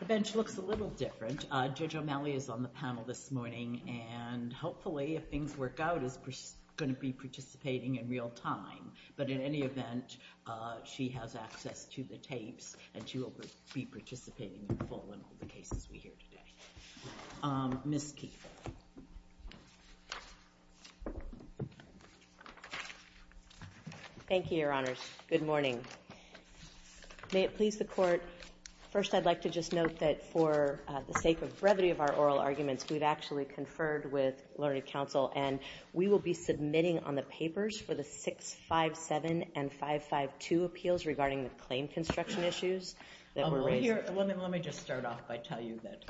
The bench looks a little different. Judge O'Malley is on the panel this morning and hopefully if things work out, she's going to be participating in real time. But in any event, she has access to the tapes and she will be participating in all the cases we hear today. Ms. Keefe. Thank you, Your Honors. Good morning. May it please the Court, first I'd like to just note that for the sake of brevity of our oral arguments, we've actually conferred with Learned Counsel and we will be submitting on the papers for the 657 and 552 appeals regarding the claim construction issues that we're raising. Let me just start off by telling you that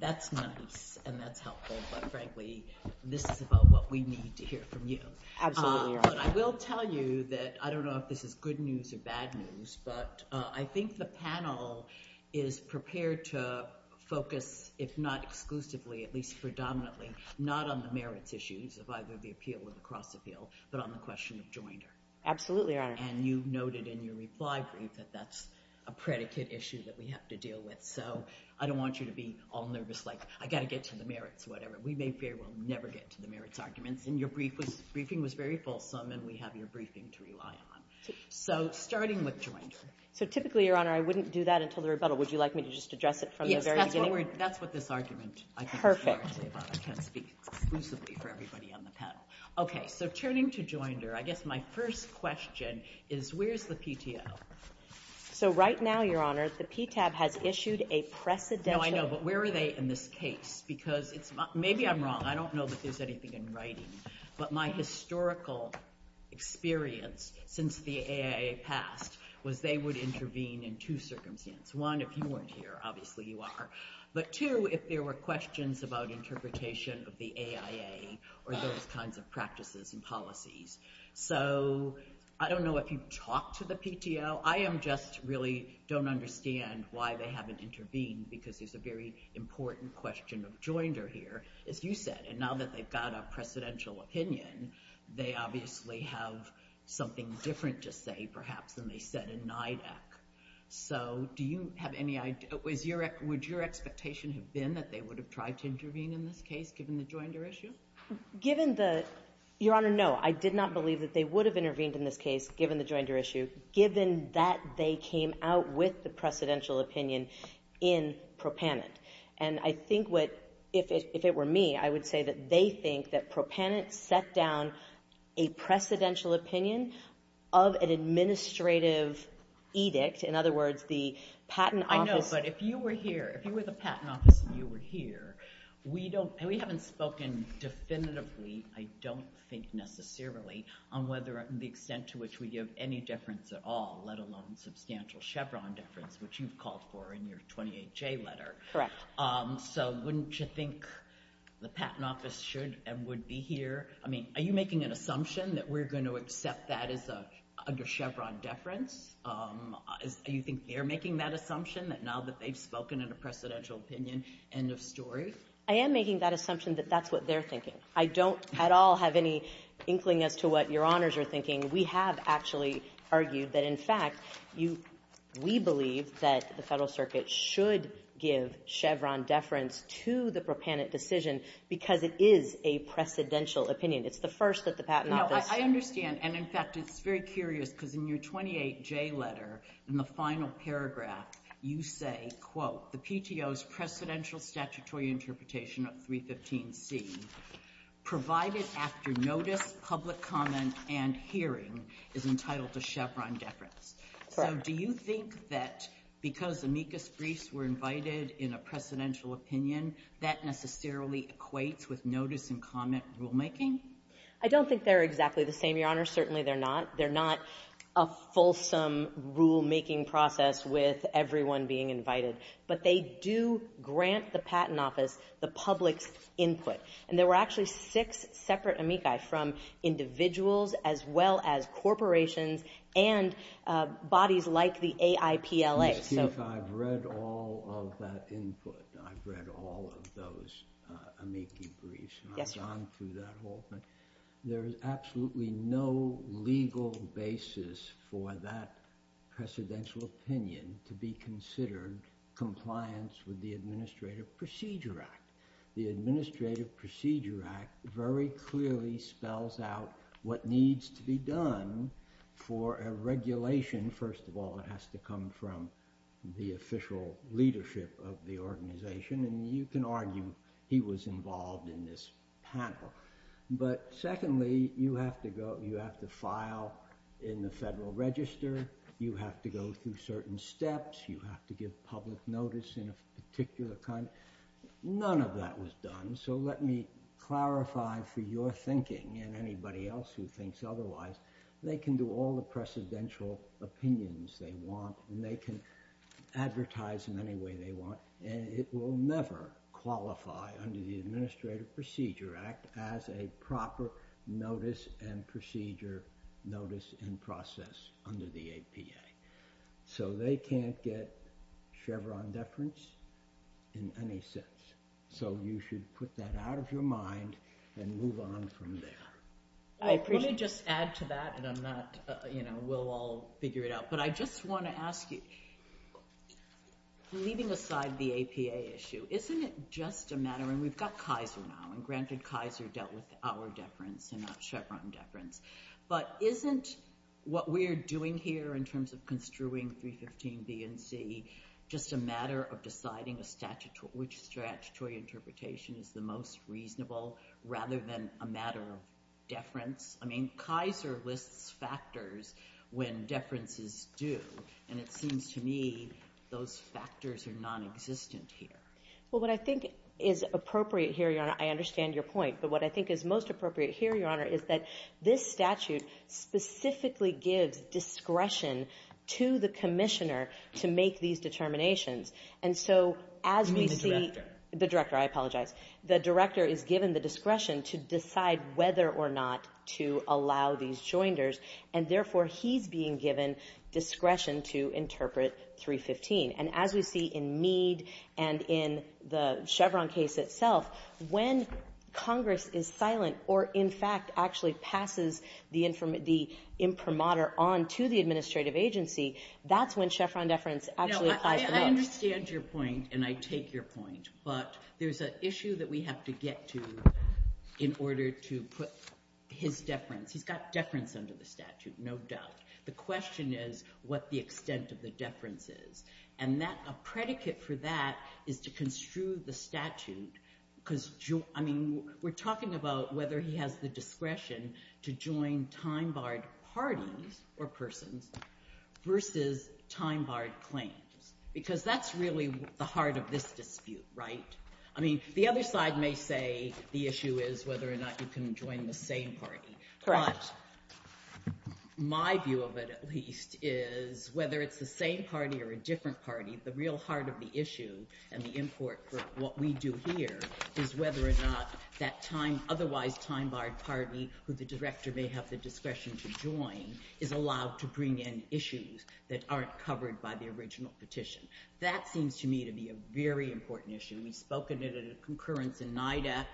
that's nice and that's helpful, but frankly, this is about what we need to hear from you. Absolutely, Your Honor. I will tell you that I don't know if this is good news or bad news, but I think the panel is prepared to focus, if not exclusively, at least predominantly, not on the merits issues of either the appeal or the cross-appeal, but on the question of joinder. Absolutely, Your Honor. And you noted in your reply brief that that's a predicate issue that we have to deal with, so I don't want you to be all nervous like, I've got to get to the merits, whatever. We may very well never get to the merits arguments. And your briefing was very fulsome and we have your briefing to rely on. So, starting with joinder. So, typically, Your Honor, I wouldn't do that until the rebuttal. Would you like me to just address it from the very beginning? In other words, that's what this argument is. Perfect. Okay. So, turning to joinder, I guess my first question is, where's the PTO? So, right now, Your Honor, the PTAB has issued a precedential... No, I know, but where are they in this case? Because maybe I'm wrong. I don't know that there's anything in writing. But my historical experience since the AIA passed was they would intervene in two circumstances. One, if you weren't here, obviously you are. But two, if there were questions about interpretation of the AIA or those kinds of practices and policies. So, I don't know if you've talked to the PTO. I just really don't understand why they haven't intervened because there's a very important question of joinder here, as you said. And now that they've got a precedential opinion, they obviously have something different to say, perhaps, than they said in NIDAC. So, do you have any idea... Would your expectation have been that they would have tried to intervene in this case, given the joinder issue? Given the... Your Honor, no. I did not believe that they would have intervened in this case, given the joinder issue, given that they came out with the precedential opinion in propanent. And I think what... If it were me, I would say that they think that propanent set down a precedential opinion of an administrative edict. In other words, the patent office... I know, but if you were here, if you were the patent office and you were here, we don't... And we haven't spoken definitively, I don't think necessarily, on whether the extent to which we give any difference at all, let alone substantial Chevron difference, which you've called for in your 28-J letter. Correct. So, wouldn't you think the patent office should and would be here? I mean, are you making an assumption that we're going to accept that as a Chevron difference? Do you think they're making that assumption, that now that they've spoken in a precedential opinion, end of story? I am making that assumption that that's what they're thinking. I don't at all have any inkling as to what Your Honors are thinking. We have actually argued that, in fact, we believe that the Federal Circuit should give Chevron deference to the propanent decision because it is a precedential opinion. It's the first that the patent office... No, I understand, and in fact, it's very curious because in your 28-J letter, in the final paragraph, you say, quote, The PTO's precedential statutory interpretation of 315C, provided after notice, public comment, and hearing, is entitled to Chevron deference. Do you think that because amicus briefs were invited in a precedential opinion, that necessarily equates with notice and comment rulemaking? I don't think they're exactly the same, Your Honors. Certainly, they're not. They're not a fulsome rulemaking process with everyone being invited, but they do grant the patent office the public's input. There were actually six separate amicus from individuals as well as corporations and bodies like the AIPLA. Let's see if I've read all of that input. I've read all of those amicus briefs. I've gone through that whole thing. There is absolutely no legal basis for that precedential opinion to be considered compliance with the Administrative Procedure Act. The Administrative Procedure Act very clearly spells out what needs to be done for a regulation. First of all, it has to come from the official leadership of the organization, and you can argue he was involved in this panel. But secondly, you have to file in the Federal Register. You have to go through certain steps. You have to give public notice in a particular kind. None of that was done, so let me clarify for your thinking and anybody else who thinks otherwise. They can do all the precedential opinions they want, and they can advertise them any way they want, and it will never qualify under the Administrative Procedure Act as a proper notice and procedure notice in process under the APA. So they can't get Chevron deference in any sense. So you should put that out of your mind and move on from there. Let me just add to that, and we'll all figure it out. But I just want to ask you, leaving aside the APA issue, isn't it just a matter – and we've got Kaiser now, and granted Kaiser dealt with our deference and not Chevron deference, but isn't what we're doing here in terms of construing 315B and C just a matter of deciding which statutory interpretation is the most reasonable rather than a matter of deference? I mean, Kaiser lists factors when deference is due, and it seems to me those factors are nonexistent here. Well, what I think is appropriate here, Your Honor – I understand your point – but what I think is most appropriate here, Your Honor, is that this statute specifically gives discretion to the commissioner to make these determinations. And so as we see – And the director. The director. I apologize. The director is given the discretion to decide whether or not to allow these joinders, and therefore he's being given discretion to interpret 315. And as we see in Meade and in the Chevron case itself, when Congress is silent or in fact actually passes the imprimatur on to the administrative agency, that's when Chevron deference actually applies the most. I understand your point, and I take your point. But there's an issue that we have to get to in order to put his deference. He's got deference under the statute, no doubt. The question is what the extent of the deference is. And a predicate for that is to construe the statute because – I mean, we're talking about whether he has the discretion to join time-barred parties or persons versus time-barred claims, because that's really the heart of this dispute, right? I mean, the other side may say the issue is whether or not you can join the same party. But my view of it, at least, is whether it's the same party or a different party, the real heart of the issue and the import for what we do here is whether or not that time – otherwise time-barred party who the director may have the discretion to join is allowed to bring in issues that aren't covered by the original petition. That seems to me to be a very important issue. We've spoken at a concurrence in NIDAC.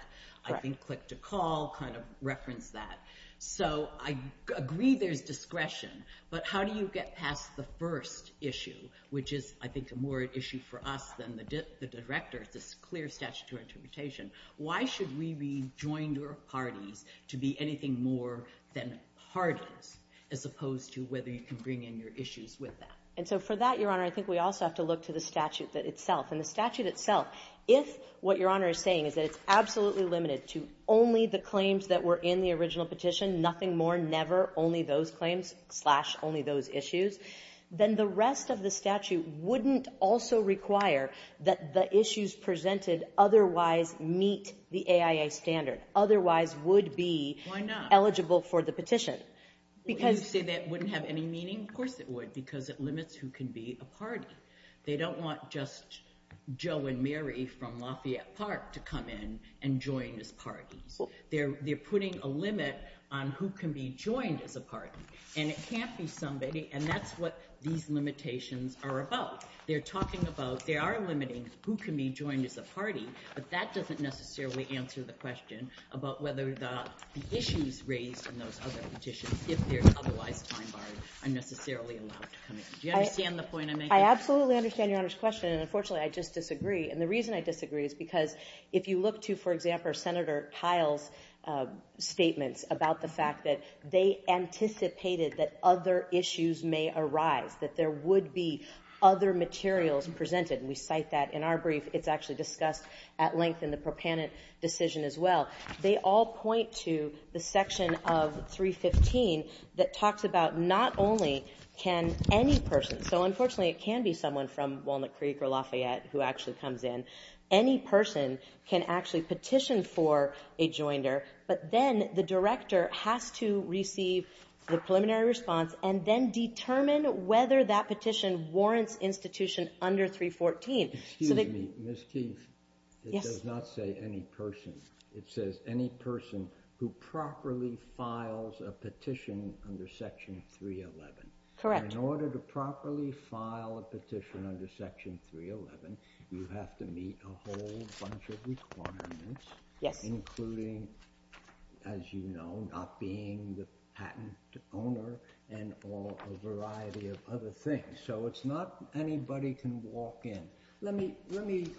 I think Click to Call kind of referenced that. So I agree there's discretion, but how do you get past the first issue, which is I think a more issue for us than the directors, this clear statutory interpretation? Why should we rejoin your party to be anything more than part of it as opposed to whether you can bring in your issues with that? And so for that, Your Honor, I think we also have to look to the statute itself. And the statute itself, if what Your Honor is saying is that it's absolutely limited to only the claims that were in the original petition, nothing more, never, only those claims slash only those issues, then the rest of the statute wouldn't also require that the issues presented otherwise meet the AIA standard, otherwise would be eligible for the petition. You say that wouldn't have any meaning? Of course it would because it limits who can be a party. They don't want just Joe and Mary from Lafayette Park to come in and join this party. They're putting a limit on who can be joined at the party. And it can't be somebody, and that's what these limitations are about. They're talking about, they are limiting who can be joined at the party, but that doesn't necessarily answer the question about whether the issues raised in those other petitions, if they're otherwise time-barred, are necessarily allowed to come in. Do you understand the point I'm making? I absolutely understand Your Honor's question, and unfortunately I just disagree. And the reason I disagree is because if you look to, for example, Senator Kile's statements about the fact that they anticipated that other issues may arise, that there would be other materials presented, and we cite that in our brief. It's actually discussed at length in the proponent decision as well. They all point to the section of 315 that talks about not only can any person, so unfortunately it can be someone from Walnut Creek or Lafayette who actually comes in, any person can actually petition for a joinder, but then the director has to receive the preliminary response and then determine whether that petition warrants institution under 314. Excuse me, Ms. Keith. Yes. It does not say any person. It says any person who properly files a petition under Section 311. Correct. In order to properly file a petition under Section 311, you have to meet a whole bunch of requirements, including, as you know, not being the patent owner and a variety of other things. So it's not anybody can walk in. Let me,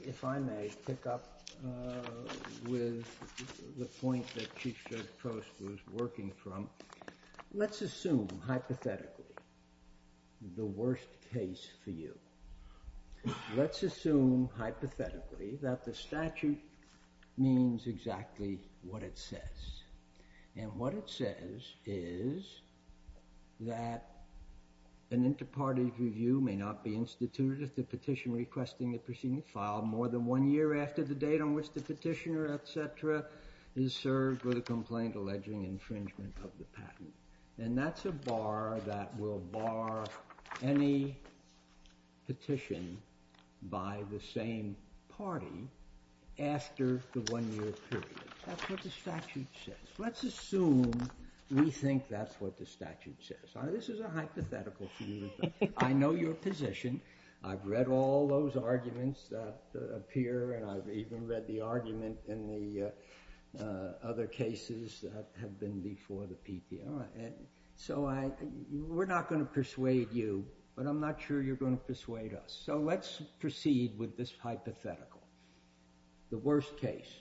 if I may, pick up with the point that Chief Judge Post was working from. Let's assume, hypothetically, the worst case for you. Let's assume, hypothetically, that the statute means exactly what it says. And what it says is that an inter-party review may not be instituted if the petition requesting the proceeding filed more than one year after the date on which the petitioner, et cetera, is served with a complaint alleging infringement of the patent. And that's a bar that will bar any petition by the same party after the one-year period. That's what the statute says. Let's assume we think that's what the statute says. This is a hypothetical for you. I know your position. I've read all those arguments that appear, and I've even read the argument in the other cases that have been before the PPI. So we're not going to persuade you, but I'm not sure you're going to persuade us. So let's proceed with this hypothetical, the worst case.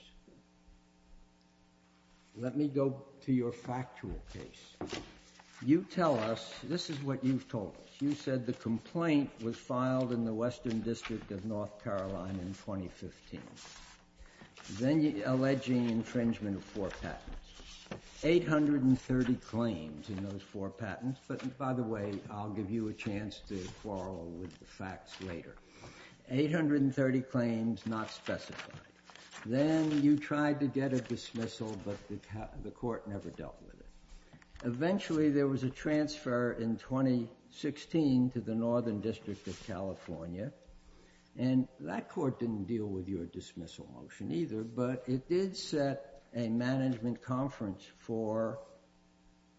Let me go to your factual case. You tell us, this is what you've told us. You said the complaint was filed in the Western District of North Carolina in 2015, alleging infringement of four patents, 830 claims in those four patents. But, by the way, I'll give you a chance to quarrel with the facts later. Eight hundred and thirty claims, not specified. Then you tried to get a dismissal, but the court never dealt with it. Eventually, there was a transfer in 2016 to the Northern District of California, and that court didn't deal with your dismissal motion either, but it did set a management conference for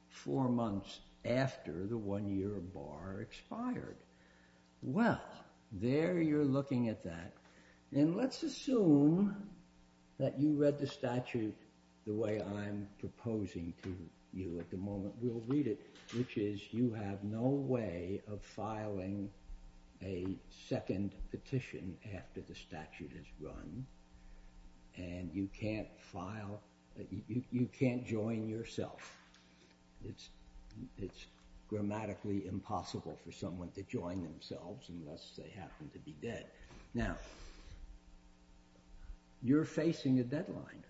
four months after the one-year bar expired. Well, there you're looking at that. And let's assume that you read the statute the way I'm proposing to you at the moment we'll read it, which is you have no way of filing a second petition after the statute is run, and you can't join yourself. It's grammatically impossible for someone to join themselves unless they happen to be dead. Now, you're facing a deadline,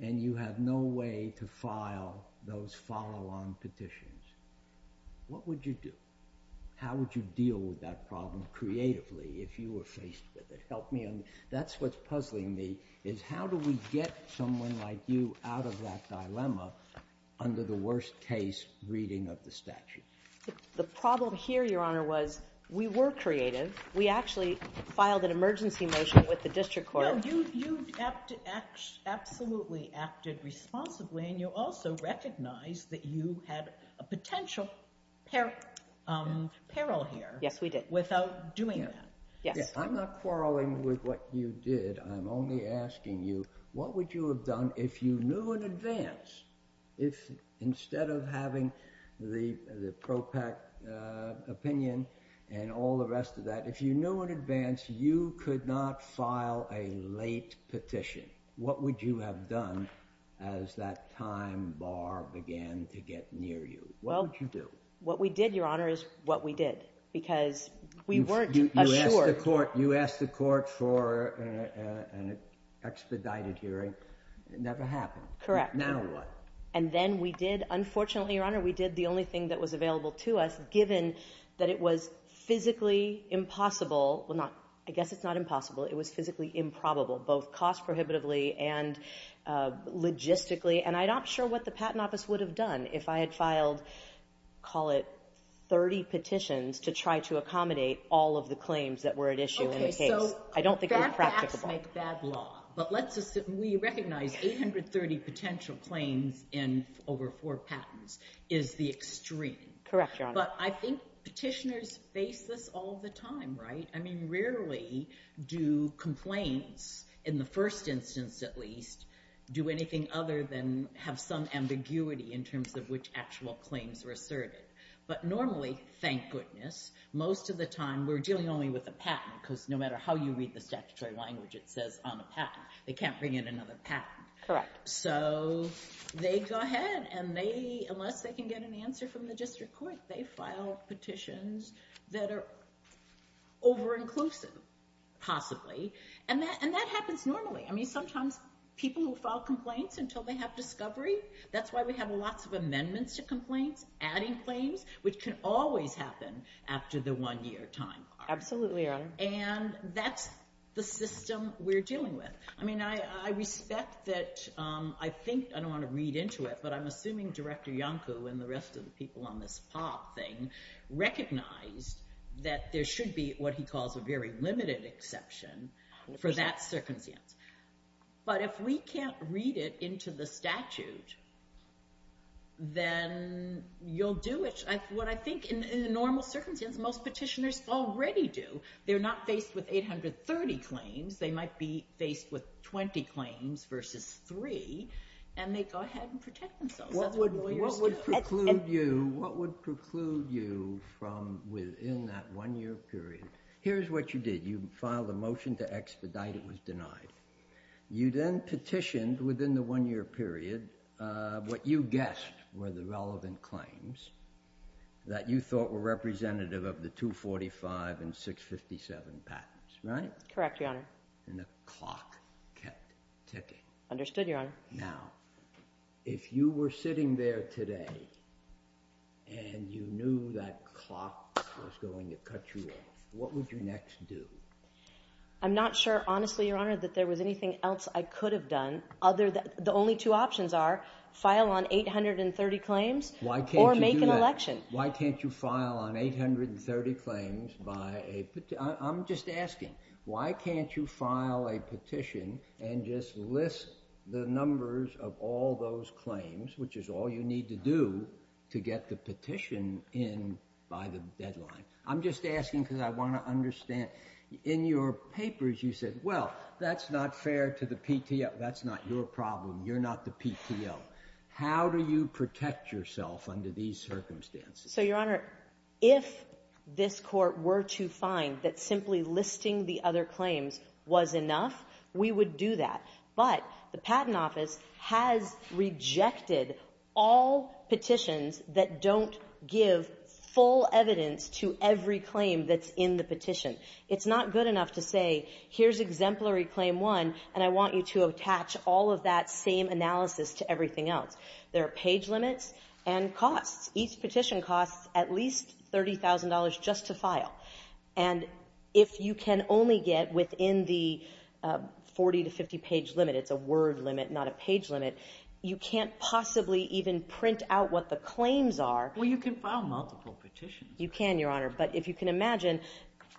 and you have no way to file those follow-on petitions. What would you do? How would you deal with that problem creatively if you were faced with it? Help me. That's what's puzzling me is how do we get someone like you out of that dilemma under the worst-case reading of the statute? The problem here, Your Honor, was we were creative. We actually filed an emergency motion with the district court. No, you absolutely acted responsibly, and you also recognized that you had a potential peril here. Yes, we did. Without doing that. Yes. I'm not quarreling with what you did. Instead of having the propact opinion and all the rest of that, if you knew in advance you could not file a late petition, what would you have done as that time bar began to get near you? What would you do? What we did, Your Honor, is what we did because we weren't assured. You asked the court for an expedited hearing. It never happened. Correct. Now what? And then we did, unfortunately, Your Honor, we did the only thing that was available to us, given that it was physically impossible. I guess it's not impossible. It was physically improbable, both cost prohibitively and logistically. And I'm not sure what the Patent Office would have done if I had filed, call it 30 petitions, to try to accommodate all of the claims that were at issue in the case. I don't think it was practicable. But we recognize 830 potential claims in over four patents is the extreme. Correct, Your Honor. But I think petitioners face this all the time, right? I mean, rarely do complaints, in the first instance at least, do anything other than have some ambiguity in terms of which actual claims were asserted. But normally, thank goodness, most of the time we're dealing only with a patent because no matter how you read the statutory language, it says I'm a patent. They can't bring in another patent. Correct. So they go ahead and they, unless they can get an answer from the district court, they file petitions that are over-inclusive, possibly. And that happens normally. I mean, sometimes people will file complaints until they have discovery. That's why we have lots of amendments to complaints, adding claims, which can always happen after the one-year time. Absolutely, Your Honor. And that's the system we're dealing with. I mean, I respect that. I think, I don't want to read into it, but I'm assuming Director Iancu and the rest of the people on this POP thing recognize that there should be what he calls a very limited exception for that circumstance. But if we can't read it into the statute, then you'll do it. That's what I think in a normal circumstance most petitioners already do. They're not faced with 830 claims. They might be faced with 20 claims versus three, and they go ahead and protect themselves. That's what lawyers do. What would preclude you from within that one-year period? Here's what you did. You filed a motion to expedite. It was denied. You then petitioned within the one-year period. What you guessed were the relevant claims that you thought were representative of the 245 and 657 patents, right? Correct, Your Honor. And the clock kept ticking. Understood, Your Honor. Now, if you were sitting there today and you knew that clock was going to cut you off, what would you next do? I'm not sure, honestly, Your Honor, that there was anything else I could have done. The only two options are file on 830 claims or make an election. Why can't you do that? Why can't you file on 830 claims by a petition? I'm just asking. Why can't you file a petition and just list the numbers of all those claims, which is all you need to do to get the petition in by the deadline? I'm just asking because I want to understand. In your papers you said, well, that's not fair to the PTO. That's not your problem. You're not the PTO. How do you protect yourself under these circumstances? So, Your Honor, if this court were to find that simply listing the other claims was enough, we would do that. But the Patent Office has rejected all petitions that don't give full evidence to every claim that's in the petition. It's not good enough to say, here's Exemplary Claim 1, and I want you to attach all of that same analysis to everything else. There are page limits and costs. Each petition costs at least $30,000 just to file. And if you can only get within the 40 to 50 page limit, it's a word limit, not a page limit, you can't possibly even print out what the claims are. Well, you can file multiple petitions. You can, Your Honor. But if you can imagine,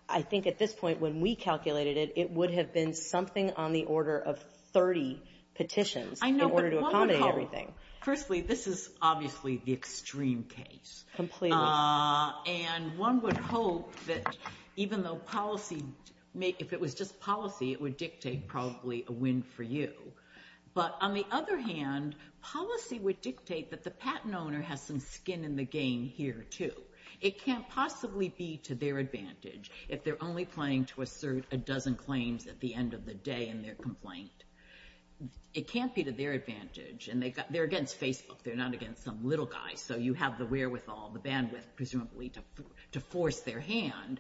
I think at this point when we calculated it, it would have been something on the order of 30 petitions in order to accommodate everything. Firstly, this is obviously the extreme case. Completely. And one would hope that even though policy, if it was just policy, it would dictate probably a win for you. But on the other hand, policy would dictate that the patent owner has some skin in the game here too. It can't possibly be to their advantage if they're only claiming to assert a dozen claims at the end of the day in their complaint. It can't be to their advantage. They're against Facebook. They're not against some little guy. So you have the wherewithal, the bandwidth, presumably, to force their hand.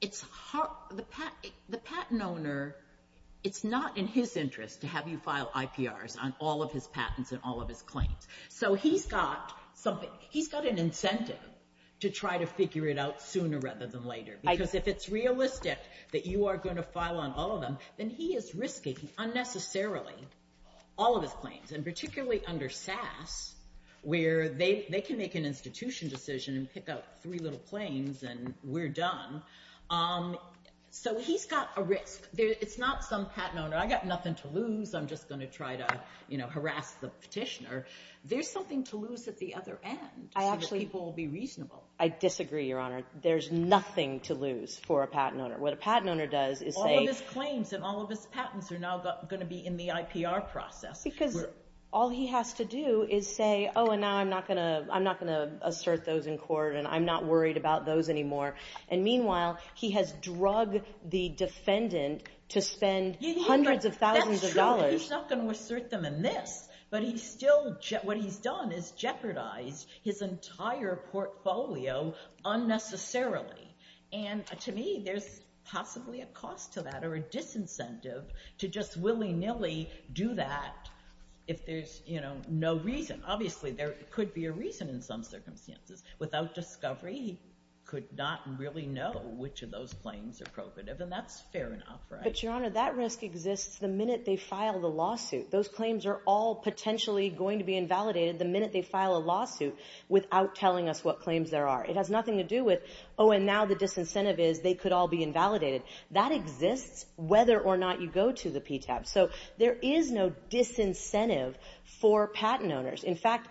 The patent owner, it's not in his interest to have you file IPRs on all of his patents and all of his claims. So he's got an incentive to try to figure it out sooner rather than later. Because if it's realistic that you are going to file on all of them, then he is risking unnecessarily all of his claims, and particularly under SAS where they can make an institution decision and pick out three little claims and we're done. So he's got a risk. It's not some patent owner, I've got nothing to lose, I'm just going to try to harass the petitioner. There's something to lose at the other end. People will be reasonable. I disagree, Your Honor. There's nothing to lose for a patent owner. What a patent owner does is they – All of his claims and all of his patents are now going to be in the IPR process. Because all he has to do is say, oh, and now I'm not going to assert those in court and I'm not worried about those anymore. And meanwhile, he has drug the defendant to spend hundreds of thousands of dollars. That's true. He's not going to assert them in this. But he's still – what he's done is jeopardize his entire portfolio unnecessarily. And to me, there's possibly a cost to that or a disincentive to just willy-nilly do that if there's no reason. Obviously, there could be a reason in some circumstances. Without discovery, he could not really know which of those claims are appropriate, and that's fair enough, right? But, Your Honor, that risk exists the minute they file the lawsuit. Those claims are all potentially going to be invalidated the minute they file a lawsuit without telling us what claims there are. It has nothing to do with, oh, and now the disincentive is they could all be invalidated. That exists whether or not you go to the PTAB. So there is no disincentive for patent owners. In fact,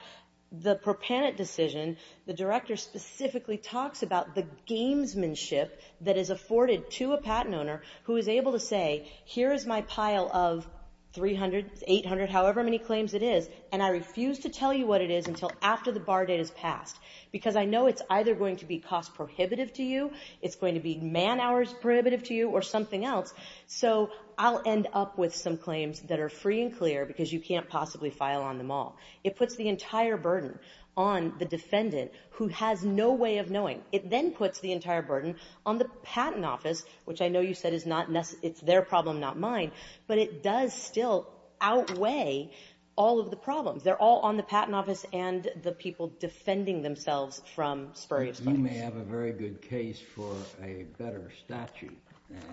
the ProPanit decision, the director specifically talks about the gamesmanship that is afforded to a patent owner who is able to say, here is my pile of 300, 800, however many claims it is, and I refuse to tell you what it is until after the bar date is passed because I know it's either going to be cost prohibitive to you, it's going to be man hours prohibitive to you, or something else, so I'll end up with some claims that are free and clear because you can't possibly file on them all. It puts the entire burden on the defendant who has no way of knowing. It then puts the entire burden on the patent office, which I know you said it's their problem, not mine, but it does still outweigh all of the problems. They're all on the patent office and the people defending themselves from spurious claims. You may have a very good case for a better statute,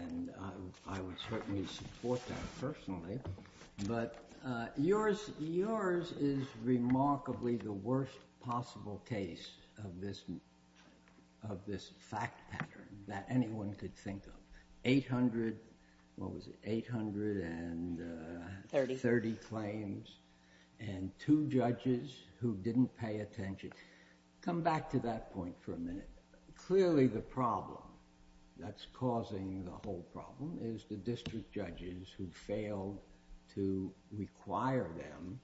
and I would certainly support that personally, but yours is remarkably the worst possible case of this fact pattern that anyone could think of. 800 and 30 claims and two judges who didn't pay attention. Come back to that point for a minute. Clearly the problem that's causing the whole problem is the district judges who failed to require them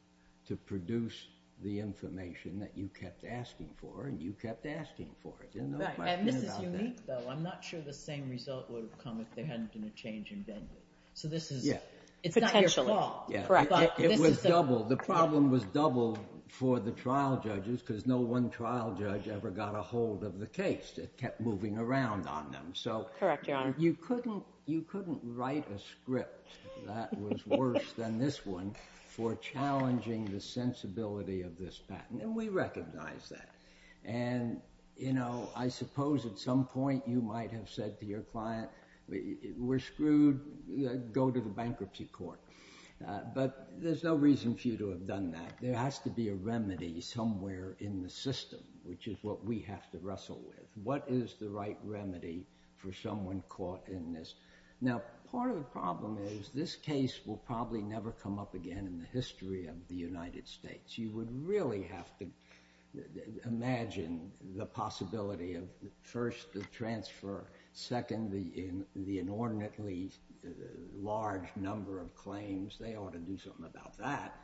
to produce the information that you kept asking for, and you kept asking for it. This is unique, though. I'm not sure the same result would have come if there hadn't been a change in venue. It's not your fault. It was double. The problem was double for the trial judges because no one trial judge ever got a hold of the case. It kept moving around on them. You couldn't write a script that was worse than this one for challenging the sensibility of this patent, and we recognize that. I suppose at some point you might have said to your client, we're screwed, go to the bankruptcy court, but there's no reason for you to have done that. There has to be a remedy somewhere in the system, which is what we have to wrestle with. What is the right remedy for someone caught in this? Part of the problem is this case will probably never come up again in the history of the United States. You would really have to imagine the possibility of, first, the transfer, second, the inordinately large number of claims. They ought to do something about that.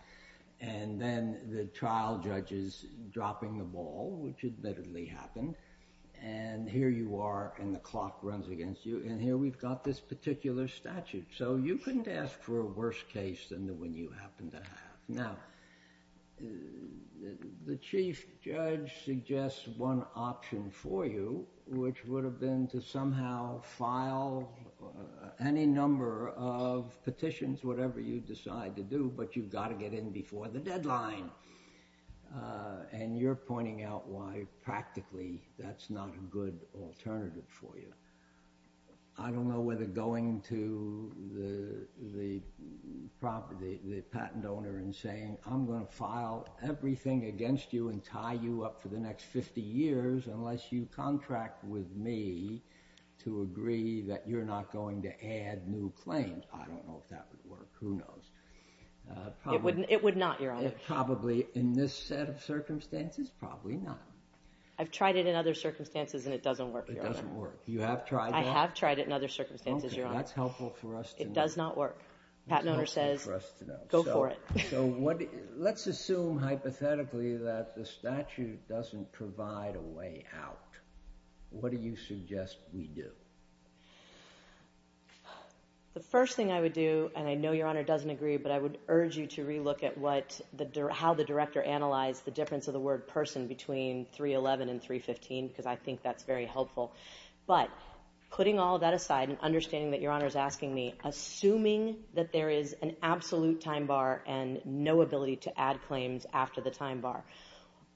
Then the trial judges dropping the ball, which admittedly happened, and here you are and the clock runs against you, and here we've got this particular statute. You couldn't ask for a worse case than the one you happen to have. Now, the chief judge suggests one option for you, which would have been to somehow file any number of petitions, whatever you decide to do, but you've got to get in before the deadline, and you're pointing out why practically that's not a good alternative for you. I don't know whether going to the patent owner and saying I'm going to file everything against you and tie you up for the next 50 years unless you contract with me to agree that you're not going to add new claims. I don't know if that would work. Who knows? It would not, Your Honor. Probably in this set of circumstances, probably not. I've tried it in other circumstances and it doesn't work, Your Honor. You have tried it? I have tried it in other circumstances, Your Honor. Okay, that's helpful for us to know. It does not work. The patent owner says, go for it. So let's assume hypothetically that the statute doesn't provide a way out. What do you suggest we do? The first thing I would do, and I know Your Honor doesn't agree, but I would urge you to re-look at how the director analyzed the difference of the word person between 311 and 315 because I think that's very helpful. But putting all that aside and understanding that Your Honor is asking me, assuming that there is an absolute time bar and no ability to add claims after the time bar,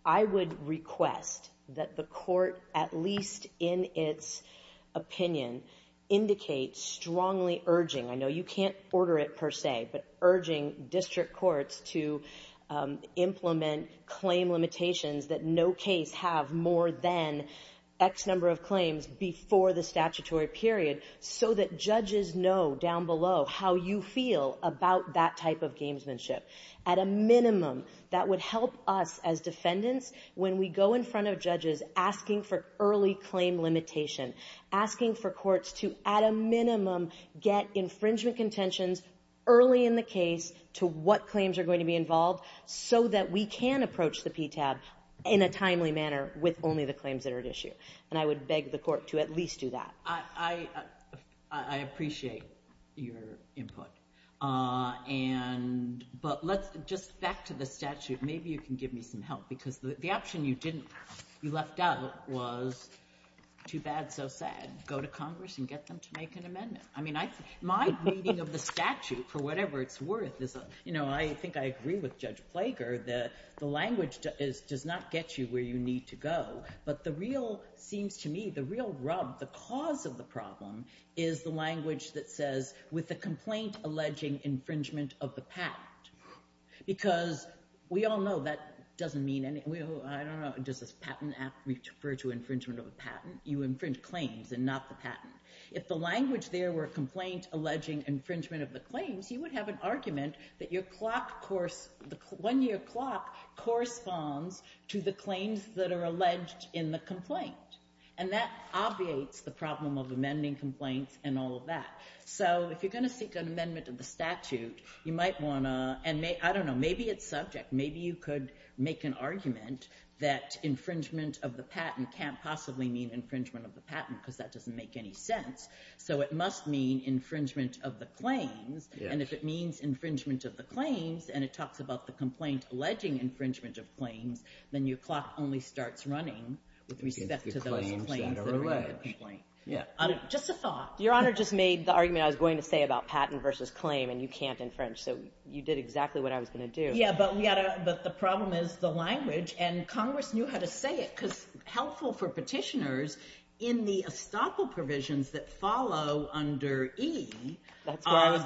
I would request that the court, at least in its opinion, indicate strongly urging, I know you can't order it per se, but urging district courts to implement claim limitations that no case have more than X number of claims before the statutory period so that judges know down below how you feel about that type of gamesmanship. At a minimum, that would help us as defendants when we go in front of judges asking for early claim limitation, asking for courts to, at a minimum, get infringement contentions early in the case to what claims are going to be involved so that we can approach the PTABs in a timely manner with only the claims that are at issue. And I would beg the court to at least do that. I appreciate your input. But just back to the statute, maybe you can give me some help because the option you left out was too bad, so sad. Go to Congress and get them to make an amendment. My reading of the statute, for whatever it's worth, I think I agree with Judge Flager that the language does not get you where you need to go. But the real rub, the cause of the problem is the language that says with the complaint alleging infringement of the patent. Because we all know that doesn't mean anything. I don't know, does this patent act refer to infringement of a patent? You infringe claims and not the patent. If the language there were complaint alleging infringement of the claim, he would have an argument that your one-year clock corresponds to the claims that are alleged in the complaint. And that obviates the problem of amending complaints and all of that. So if you're going to seek an amendment of the statute, you might want to, I don't know, maybe it's subject, maybe you could make an argument that infringement of the patent can't possibly mean infringement of the patent because that doesn't make any sense. So it must mean infringement of the claims, and if it means infringement of the claims and it talks about the complaints alleging infringement of claims, then your clock only starts running with respect to those claims that are alleged. Just a thought. Your Honor just made the argument I was going to say about patent versus claim and you can't infringe, so you did exactly what I was going to do. Yes, but the problem is the language, and Congress knew how to say it because helpful for petitioners in the estoppel provisions that follow under E,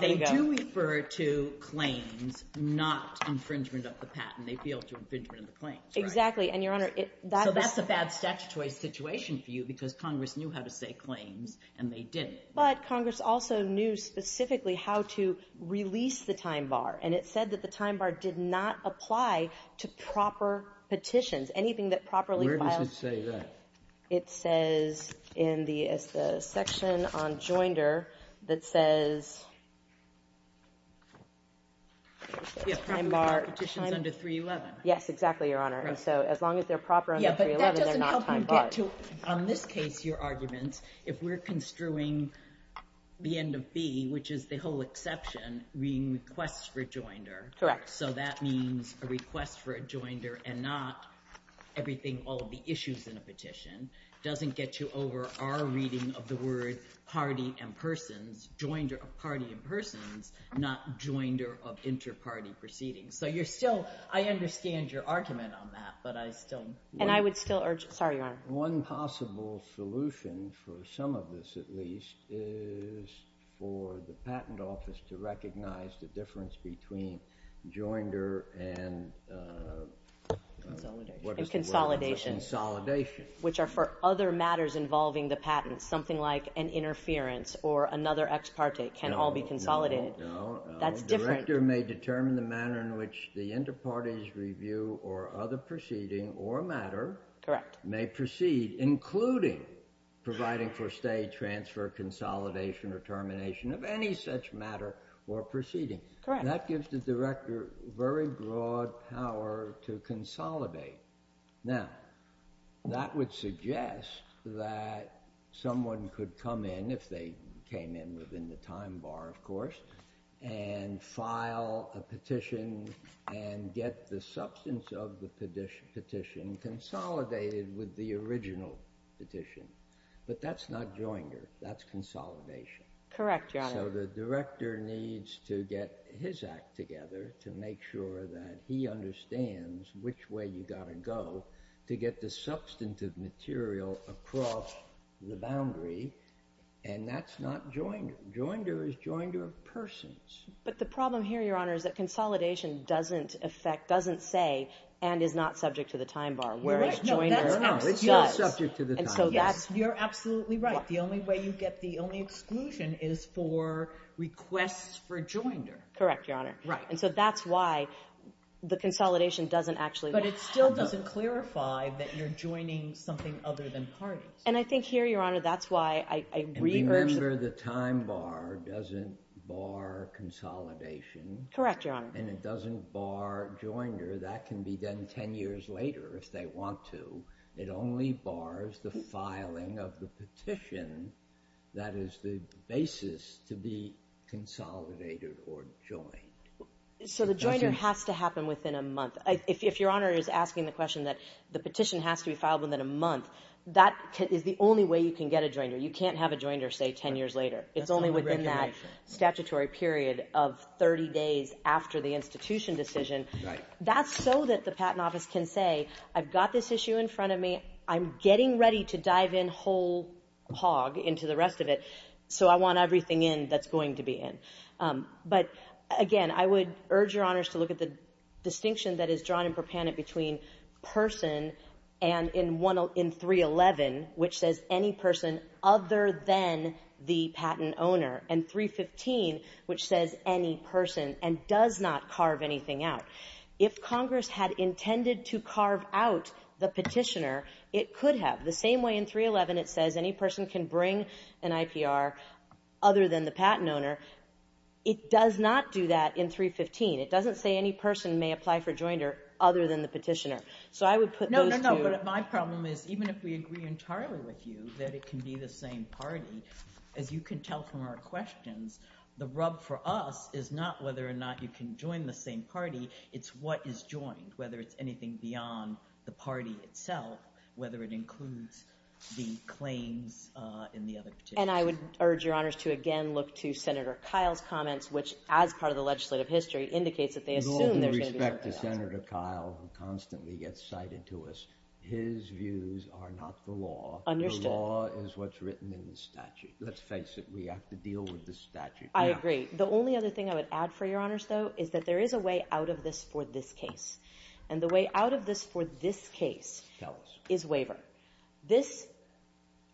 they do refer to claims, not infringement of the patent. They feel it's infringement of the claims. Exactly, and, Your Honor, that's a bad statutory situation for you because Congress knew how to say claims and they didn't. But Congress also knew specifically how to release the time bar, and it said that the time bar did not apply to proper petitions. Where does it say that? It says in the section on joinder that says time bar. Yes, time bar petitions under 311. Yes, exactly, Your Honor. So as long as they're proper under 311, they're not time barred. On this case, your argument, if we're construing the end of B, which is the whole exception, being requests for joinder. Correct. So that means a request for a joinder and not everything, all the issues in a petition, doesn't get you over our reading of the word party and persons, joinder of party and persons, not joinder of inter-party proceedings. So you're still – I understand your argument on that, but I still – And I would still urge – sorry, Your Honor. One possible solution for some of this, at least, is for the patent office to recognize the difference between joinder and consolidation, which are for other matters involving the patent, something like an interference or another ex parte can all be consolidated. No, no, no. That's different. A director may determine the manner in which the inter-party's review or other proceeding or matter may proceed, including providing for stay, transfer, consolidation, or termination of any such matter or proceeding. Correct. And that gives the director very broad power to consolidate. Now, that would suggest that someone could come in, if they came in within the time bar, of course, and file a petition and get the substance of the petition consolidated with the original petition. But that's not joinder. That's consolidation. Correct, Your Honor. So the director needs to get his act together to make sure that he understands which way you've got to go to get the substantive material across the boundary, and that's not joinder. Joinder is joinder of persons. But the problem here, Your Honor, is that consolidation doesn't affect, doesn't say, and is not subject to the time bar, whereas joinder does. It's not subject to the time bar. You're absolutely right. The only way you get the only exclusion is for requests for joinder. Correct, Your Honor. And so that's why the consolidation doesn't actually happen. But it still doesn't clarify that you're joining something other than party. And I think here, Your Honor, that's why I agree. Remember, the time bar doesn't bar consolidation. Correct, Your Honor. And it doesn't bar joinder. That can be done 10 years later if they want to. It only bars the filing of the petition that is the basis to be consolidated or joined. So the joinder has to happen within a month. If Your Honor is asking the question that the petition has to be filed within a month, that is the only way you can get a joinder. You can't have a joinder, say, 10 years later. It's only within that statutory period of 30 days after the institution decision. Right. That's so that the patent office can say, I've got this issue in front of me. I'm getting ready to dive in whole hog into the rest of it. So I want everything in that's going to be in. But, again, I would urge Your Honors to look at the distinction that is drawn in ProPanit between person and in 311, which says any person other than the patent owner, and 315, which says any person and does not carve anything out. If Congress had intended to carve out the petitioner, it could have. The same way in 311 it says any person can bring an IPR other than the patent owner, it does not do that in 315. It doesn't say any person may apply for joinder other than the petitioner. So I would put those two. No, no, no. But my problem is even if we agree entirely with you that it can be the same party, as you can tell from our questions, the rub for us is not whether or not you can join the same party. It's what is joined, whether it's anything beyond the party itself, whether it includes the claim in the other petition. And I would urge Your Honors to, again, look to Senator Kyle's comments, With respect to Senator Kyle who constantly gets cited to us, his views are not the law. The law is what's written in the statute. Let's face it, we have to deal with the statute. I agree. The only other thing I would add for Your Honors, though, is that there is a way out of this for this case. And the way out of this for this case is waiver. This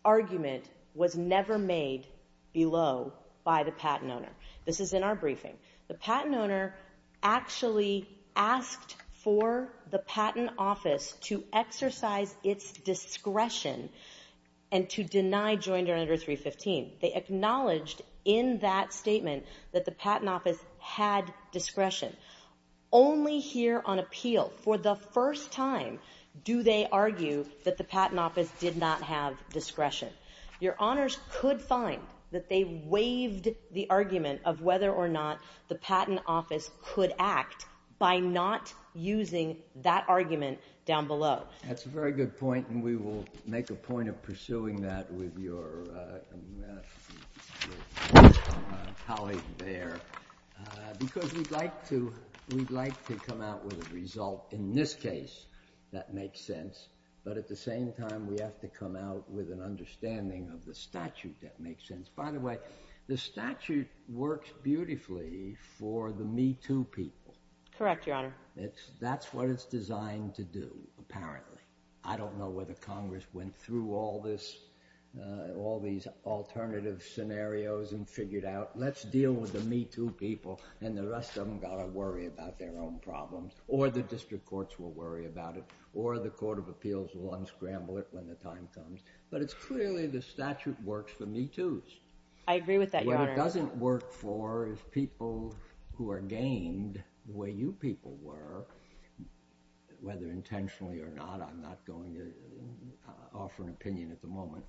argument was never made below by the patent owner. This is in our briefing. The patent owner actually asked for the patent office to exercise its discretion and to deny joinder under 315. They acknowledged in that statement that the patent office had discretion. Only here on appeal, for the first time, do they argue that the patent office did not have discretion. Your Honors could find that they waived the argument of whether or not the patent office could act by not using that argument down below. That's a very good point, and we will make a point of pursuing that with your colleagues there. Because we'd like to come out with a result in this case that makes sense. But at the same time, we have to come out with an understanding of the statute that makes sense. By the way, the statute works beautifully for the Me Too people. Correct, Your Honor. That's what it's designed to do, apparently. I don't know whether Congress went through all these alternative scenarios and figured out, let's deal with the Me Too people, and the rest of them got to worry about their own problems. Or the district courts will worry about it, or the Court of Appeals will unscramble it when the time comes. But it's clearly the statute works for Me Too's. I agree with that, Your Honor. What it doesn't work for is people who are game, the way you people were, whether intentionally or not. I'm not going to offer an opinion at the moment.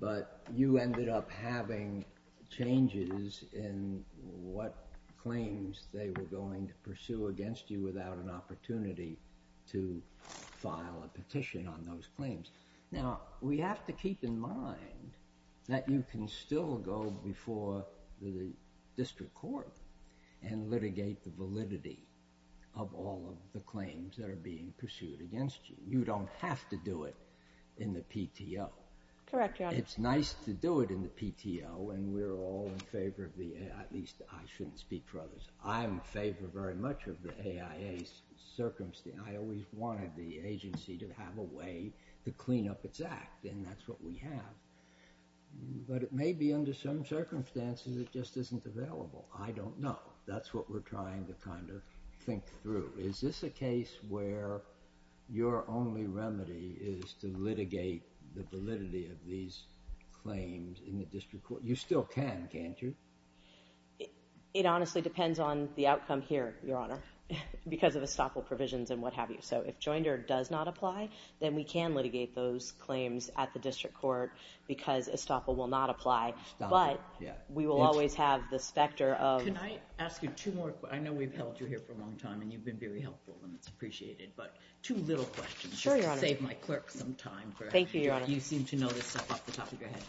But you ended up having changes in what claims they were going to pursue against you without an opportunity to file a petition on those claims. Now, we have to keep in mind that you can still go before the district court and litigate the validity of all of the claims that are being pursued against you. You don't have to do it in the PTO. Correct, Your Honor. It's nice to do it in the PTO, and we're all in favor of the AIA. At least, I shouldn't speak for others. I'm in favor very much of the AIA's circumstance. I always wanted the agency to have a way to clean up its act, and that's what we have. But it may be under some circumstances it just isn't available. I don't know. That's what we're trying to kind of think through. Is this a case where your only remedy is to litigate the validity of these claims in the district court? You still can, can't you? It honestly depends on the outcome here, Your Honor, because of the stockhold provisions and what have you. So if Joinder does not apply, then we can litigate those claims at the district court because a stockhold will not apply. But we will always have the specter of – I know we've held you here for a long time, and you've been very helpful, and it's appreciated. But two little questions. Sure, Your Honor. Save my clerk some time. Thank you, Your Honor. You seem to notice that off the top of your head.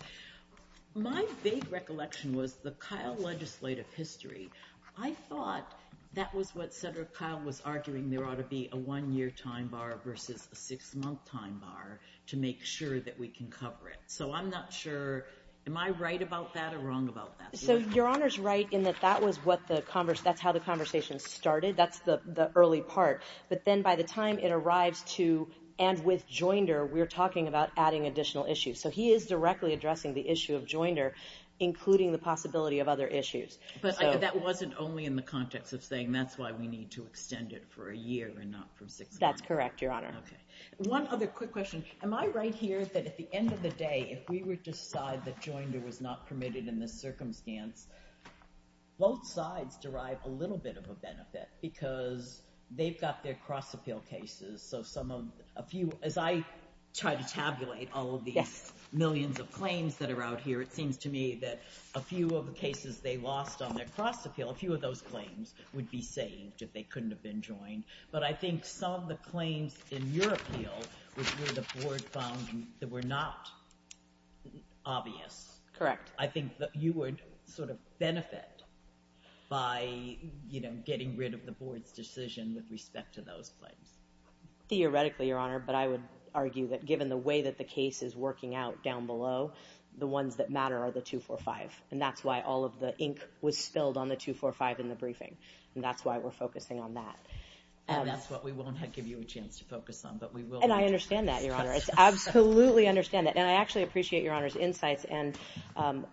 My vague recollection was the Kyle legislative history. I thought that was what Senator Kyle was arguing. There ought to be a one-year time bar versus a six-month time bar to make sure that we can cover it. So I'm not sure – am I right about that or wrong about that? So Your Honor's right in that that was what the – that's how the conversation started. That's the early part. But then by the time it arrived to – and with Joinder, we're talking about adding additional issues. So he is directly addressing the issue of Joinder, including the possibility of other issues. But that wasn't only in the context of saying that's why we need to extend it for a year and not for six months. That's correct, Your Honor. Okay. One other quick question. Am I right here that at the end of the day, if we were to decide that Joinder was not permitted in this circumstance, both sides derive a little bit of a benefit because they've got their cross-appeal cases. So some of – a few – as I try to tabulate all of these millions of claims that are out here, it seems to me that a few of the cases they lost on their cross-appeal, a few of those claims would be saved if they couldn't have been joined. But I think some of the claims in your appeal is where the board found that were not obvious. Correct. I think that you would sort of benefit by getting rid of the board's decision with respect to those claims. Theoretically, Your Honor, but I would argue that given the way that the case is working out down below, the ones that matter are the 245, and that's why all of the ink was spilled on the 245 in the briefing. And that's why we're focusing on that. That's what we won't give you a chance to focus on, but we will. And I understand that, Your Honor. I absolutely understand that. And I actually appreciate Your Honor's insights and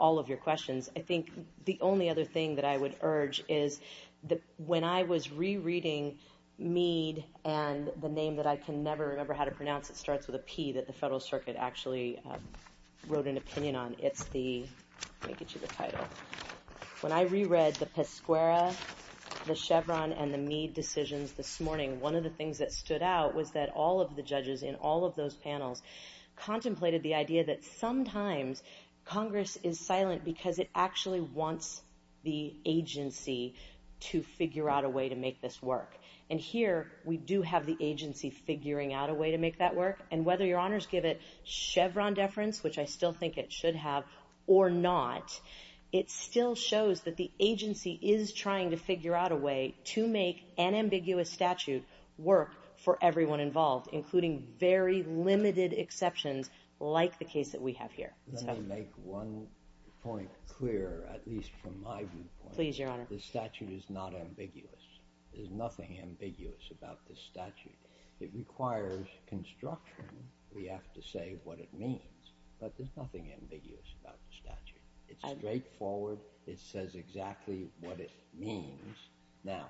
all of your questions. I think the only other thing that I would urge is that when I was rereading Mead and the name that I can never remember how to pronounce that starts with a P that the Federal Circuit actually wrote an opinion on, let me get you the title. When I reread the Pescuera, the Chevron, and the Mead decisions this morning, one of the things that stood out was that all of the judges in all of those panels contemplated the idea that sometimes Congress is silent because it actually wants the agency to figure out a way to make this work. And here, we do have the agency figuring out a way to make that work. And whether Your Honors give it Chevron deference, which I still think it should have, or not, it still shows that the agency is trying to figure out a way to make an ambiguous statute work for everyone involved, including very limited exceptions like the case that we have here. Let me make one point clear, at least from my viewpoint. Please, Your Honor. The statute is not ambiguous. There's nothing ambiguous about this statute. It requires construction. We have to say what it means. But there's nothing ambiguous about the statute. It's straightforward. It says exactly what it means. Now,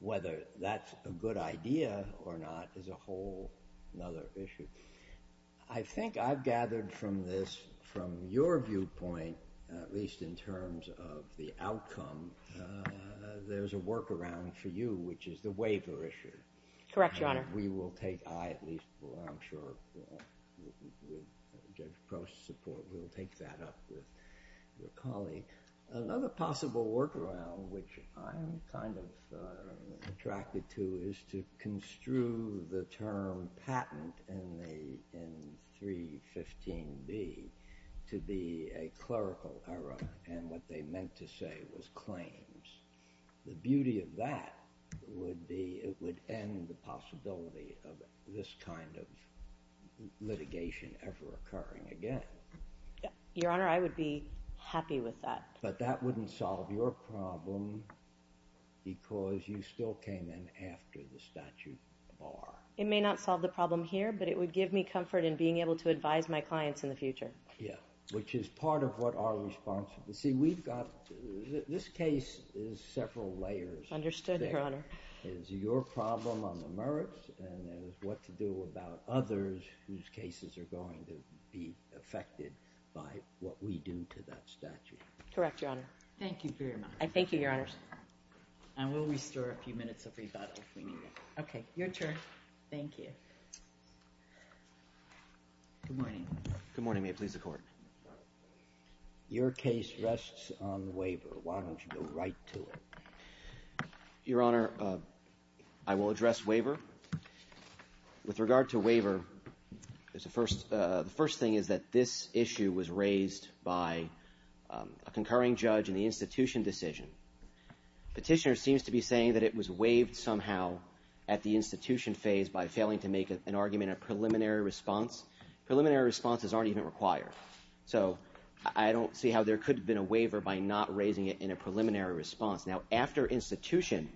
whether that's a good idea or not is a whole other issue. I think I've gathered from this, from your viewpoint, at least in terms of the outcome, there's a workaround for you, which is the waiver issue. Correct, Your Honor. We will take that up with the colleague. Another possible workaround, which I'm kind of attracted to, is to construe the term patent in 315B to be a clerical error. And what they meant to say was claims. The beauty of that would be it would end the possibility of this kind of litigation ever occurring again. Your Honor, I would be happy with that. But that wouldn't solve your problem because you still came in after the statute bar. It may not solve the problem here, but it would give me comfort in being able to advise my clients in the future. Yeah, which is part of what our responsibility. This case is several layers. Understood, Your Honor. It's your problem on the merits and what to do about others whose cases are going to be affected by what we do to that statute. Correct, Your Honor. Thank you for your remarks. Thank you, Your Honors. And we'll restore a few minutes of rebuttal from you. Okay, your turn. Thank you. Good morning. Good morning. May it please the Court. Your case rests on waiver. Why don't you go right to it. Your Honor, I will address waiver. With regard to waiver, the first thing is that this issue was raised by a concurring judge in the institution decision. Petitioner seems to be saying that it was waived somehow at the institution phase by failing to make an argument of preliminary response. Preliminary responses aren't even required. So I don't see how there could have been a waiver by not raising it in a preliminary response. Now, after institution,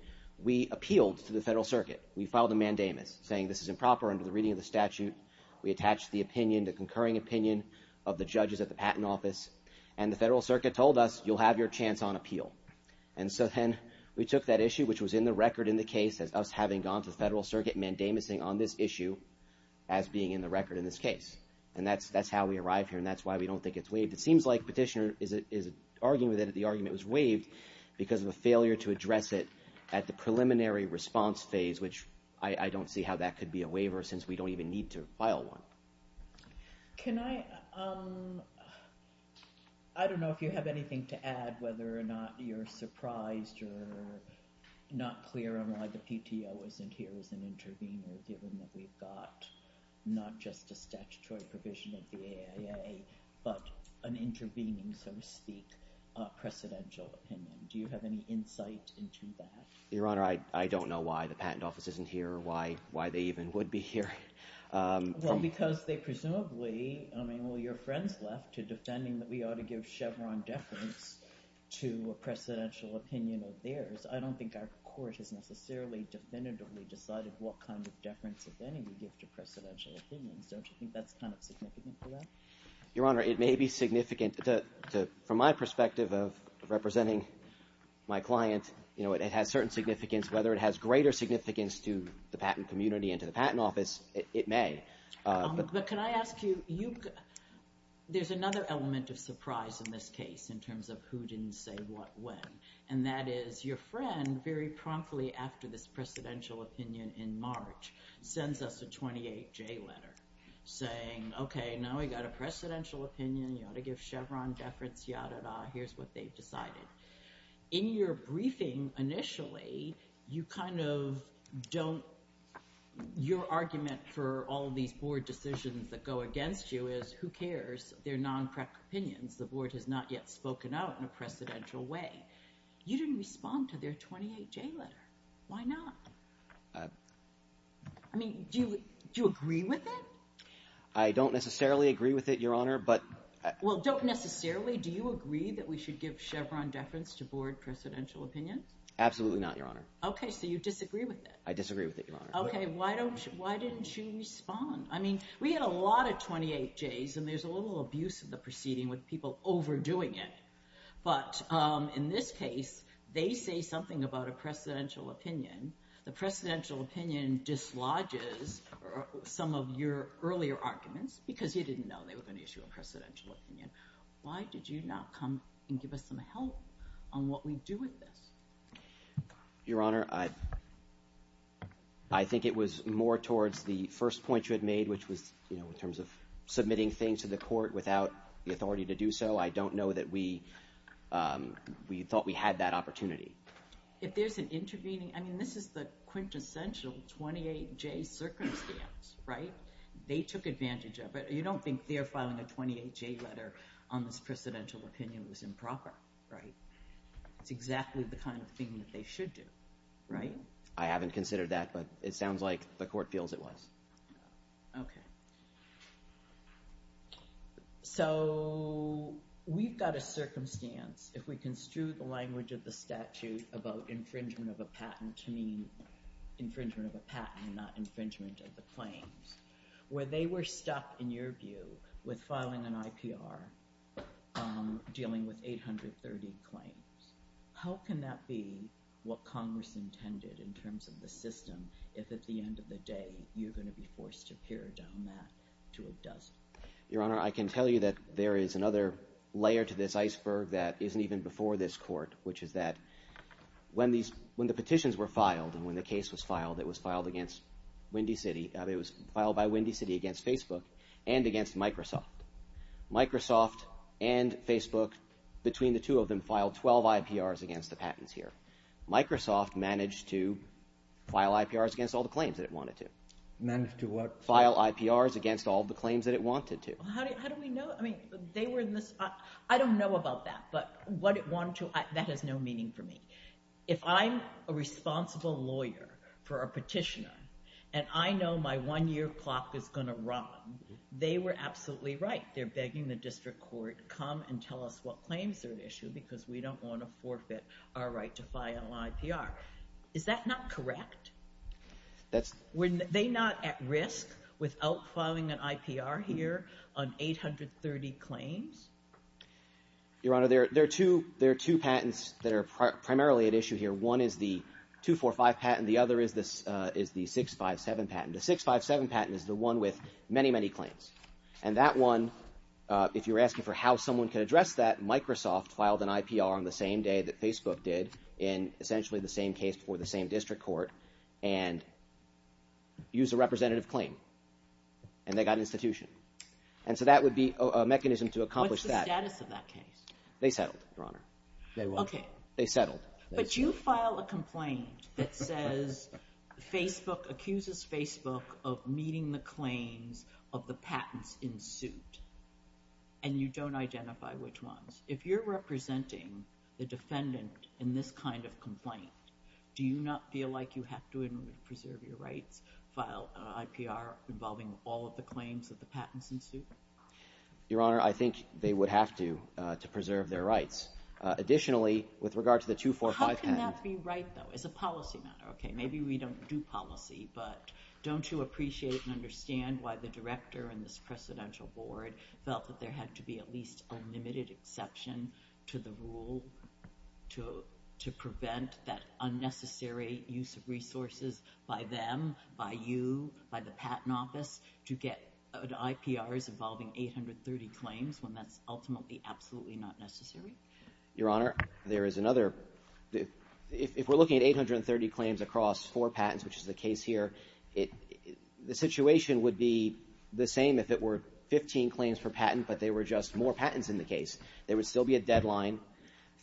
we appealed to the Federal Circuit. We filed a mandamus saying this is improper under the reading of the statute. We attached the opinion, the concurring opinion, of the judges at the Patent Office, and the Federal Circuit told us you'll have your chance on appeal. And so then we took that issue, which was in the record in the case, as us having gone to the Federal Circuit mandamus-ing on this issue as being in the record in this case. And that's how we arrived here, and that's why we don't think it's waived. It seems like Petitioner is arguing that the argument was waived because of a failure to address it at the preliminary response phase, which I don't see how that could be a waiver since we don't even need to file one. Can I – I don't know if you have anything to add, whether or not you're surprised or not clear on why the PTO isn't here as an intervener given that we've got not just a statutory provision at the AIA, but an intervening, so to speak, precedential opinion. Do you have any insight into that? Your Honor, I don't know why the Patent Office isn't here or why they even would be here. Well, because they presumably – I mean, all your friends left to defending that we ought to give Chevron deference to a precedential opinion of theirs. I don't think our court has necessarily definitively decided what kind of deference, if any, we give to precedential opinions. Don't you think that's kind of significant for that? Your Honor, it may be significant. From my perspective of representing my clients, it had certain significance. Whether it has greater significance to the patent community and to the Patent Office, it may. But could I ask you – there's another element of surprise in this case in terms of who didn't say what when, and that is your friend, very promptly after this precedential opinion in March, sends us a 28-J letter saying, okay, now we've got a precedential opinion, you ought to give Chevron deference, yada-da, here's what they've decided. In your briefing initially, you kind of don't – your argument for all these board decisions that go against you is who cares? They're non-correct opinions. The board has not yet spoken out in a precedential way. You didn't respond to their 28-J letter. Why not? I mean, do you agree with it? I don't necessarily agree with it, Your Honor, but – Well, don't necessarily – do you agree that we should give Chevron deference to board precedential opinion? Absolutely not, Your Honor. Okay, so you disagree with it. I disagree with it, Your Honor. Okay, why didn't you respond? I mean, we had a lot of 28-Js, and there's a little abuse in the proceeding with people overdoing it. But in this case, they say something about a precedential opinion. The precedential opinion dislodges some of your earlier arguments because you didn't know there was an issue in precedential opinion. Why did you not come and give us some help on what we do with this? Your Honor, I think it was more towards the first point you had made, which was in terms of submitting things to the court without the authority to do so. I don't know that we thought we had that opportunity. If there's an intervening – I mean, this is the quintessential 28-J circumstance, right? They took advantage of it. You don't think they're filing a 28-J letter on this precedential opinion that's improper, right? It's exactly the kind of thing that they should do, right? I haven't considered that, but it sounds like the court feels it was. Okay. So we've got a circumstance, if we construe the language of the statute about infringement of a patent and not infringement of the claims, where they were stuck, in your view, with filing an IPR dealing with 830 claims. How can that be what Congress intended in terms of the system if, at the end of the day, you're going to be forced to tear down that to a dust? Your Honor, I can tell you that there is another layer to this iceberg that isn't even before this court, which is that when the petitions were filed and when the case was filed, it was filed against Windy City. It was filed by Windy City against Facebook and against Microsoft. Microsoft and Facebook, between the two of them, filed 12 IPRs against the patenteer. Microsoft managed to file IPRs against all the claims that it wanted to. Managed to what? File IPRs against all the claims that it wanted to. How do we know? I mean, they were in this – I don't know about that, but what it wanted to – that has no meaning for me. If I'm a responsible lawyer for a petitioner and I know my one-year clock is going to run, they were absolutely right. They're begging the district court to come and tell us what claims they're going to issue because we don't want to forfeit our right to file an IPR. Is that not correct? That's – Were they not at risk without filing an IPR here on 830 claims? Your Honor, there are two patents that are primarily at issue here. One is the 245 patent. The other is the 657 patent. The 657 patent is the one with many, many claims. And that one, if you're asking for how someone can address that, Microsoft filed an IPR on the same day that Facebook did in essentially the same case for the same district court and used a representative claim, and they got an institution. And so that would be a mechanism to accomplish that. What's the status of that case? They settled, Your Honor. Okay. They settled. But you file a complaint that says Facebook – accuses Facebook of meeting the claims of the patents in suit, and you don't identify which ones. If you're representing the defendant in this kind of complaint, do you not feel like you have to preserve your right to file an IPR involving all of the claims of the patents in suit? Your Honor, I think they would have to preserve their rights. Additionally, with regard to the 245 patent – How can that be right, though? It's a policy matter. Okay, maybe we don't do policy, but don't you appreciate and understand why the director and this presidential board felt that there had to be at least a limited exception to the rule to prevent that unnecessary use of resources by them, by you, by the Patent Office to get IPRs involving 830 claims when that's ultimately absolutely not necessary? Your Honor, there is another – if we're looking at 830 claims across four patents, which is the case here, the situation would be the same if it were 15 claims per patent, but there were just more patents in the case. There would still be a deadline.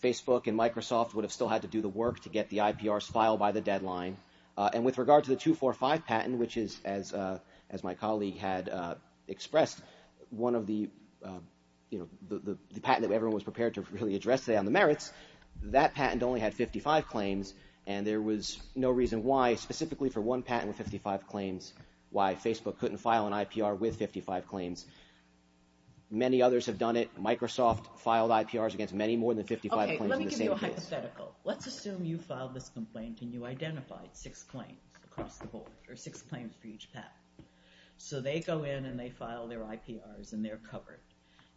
Facebook and Microsoft would have still had to do the work to get the IPRs filed by the deadline. And with regard to the 245 patent, which is, as my colleague had expressed, one of the – the patent that everyone was prepared to really address today on the merits, that patent only had 55 claims. And there was no reason why, specifically for one patent with 55 claims, why Facebook couldn't file an IPR with 55 claims. Many others have done it. Microsoft filed IPRs against many more than 55 claims in the same case. Okay, let me give you a hypothetical. Let's assume you filed this complaint and you identified six claims across the board, or six claims for each patent. So they go in and they file their IPRs and they're covered.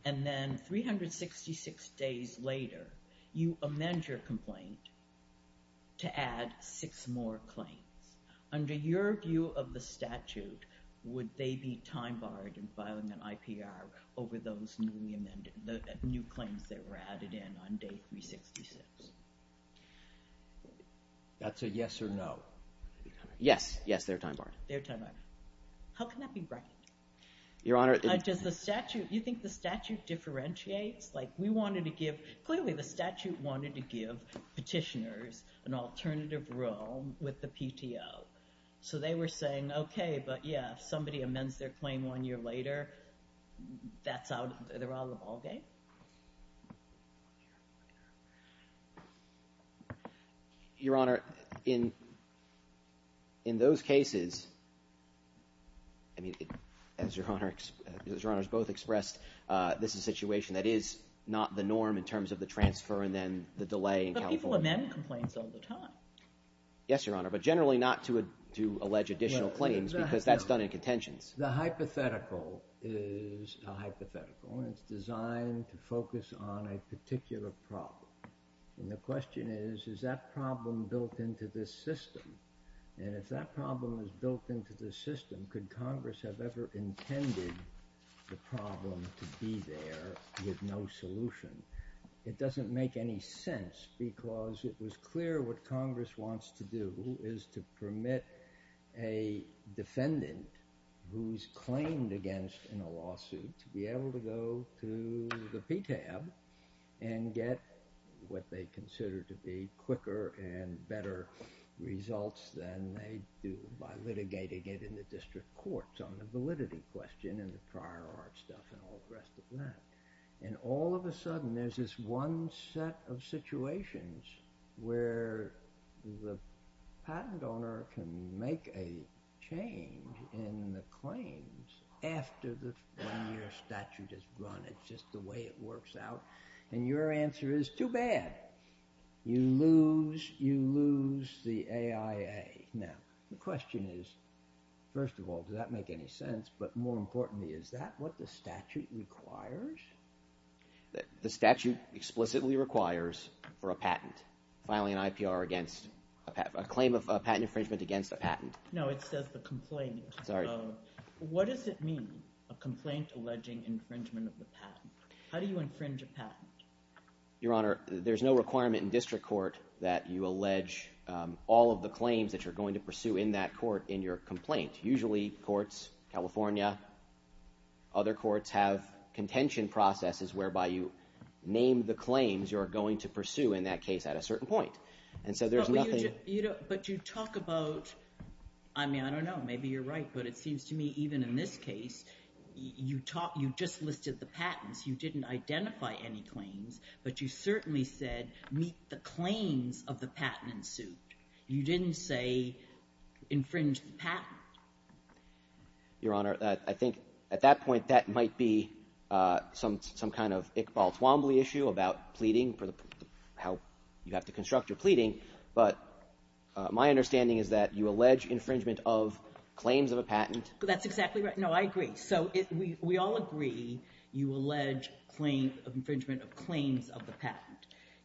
And then 366 days later, you amend your complaint to add six more claims. Under your view of the statute, would they be time-barred in filing an IPR over those newly amended – the new claims that were added in on day 366? That's a yes or no. Yes. Yes, they're time-barred. They're time-barred. How can that be right? Your Honor – Do you think the statute differentiates? Like we wanted to give – clearly the statute wanted to give petitioners an alternative role with the PTO. So they were saying, okay, but yeah, if somebody amends their claim one year later, they're out of the ballgame? Your Honor, in those cases, as Your Honor has both expressed, this is a situation that is not the norm in terms of the transfer and then the delay in calculation. But people amend complaints all the time. Yes, Your Honor, but generally not to allege additional claims because that's done in contention. The hypothetical is a hypothetical. It's designed to focus on a particular problem. And the question is, is that problem built into this system? And if that problem is built into the system, could Congress have ever intended the problem to be there with no solution? It doesn't make any sense because it was clear what Congress wants to do is to permit a defendant who's claimed against in a lawsuit to be able to go to the PTAB and get what they consider to be quicker and better results than they do by litigating it in the district courts on the validity question and the prior art stuff and all the rest of that. And all of a sudden, there's this one set of situations where the patent owner can make a change in the claims after the one-year statute is run. It's just the way it works out. And your answer is, too bad. You lose the AIA. Now, the question is, first of all, does that make any sense? But more importantly, is that what the statute requires? The statute explicitly requires for a patent, filing an IPR against – a claim of a patent infringement against a patent. No, it says the complaint. Sorry. What does it mean, a complaint alleging infringement of the patent? How do you infringe a patent? Your Honor, there's no requirement in district court that you allege all of the claims that you're going to pursue in that court in your complaint. Usually, courts – California, other courts – have contention processes whereby you name the claims you're going to pursue in that case at a certain point. And so there's nothing – But you talk about – I mean, I don't know. Maybe you're right, but it seems to me even in this case, you just listed the patents. You didn't identify any claims, but you certainly said meet the claims of the patent in suit. You didn't say infringe the patent. Your Honor, I think at that point that might be some kind of Iqbal Fwambli issue about pleading for the – how you have to construct your pleading. But my understanding is that you allege infringement of claims of a patent. That's exactly right. No, I agree. So we all agree you allege infringement of claims of the patent.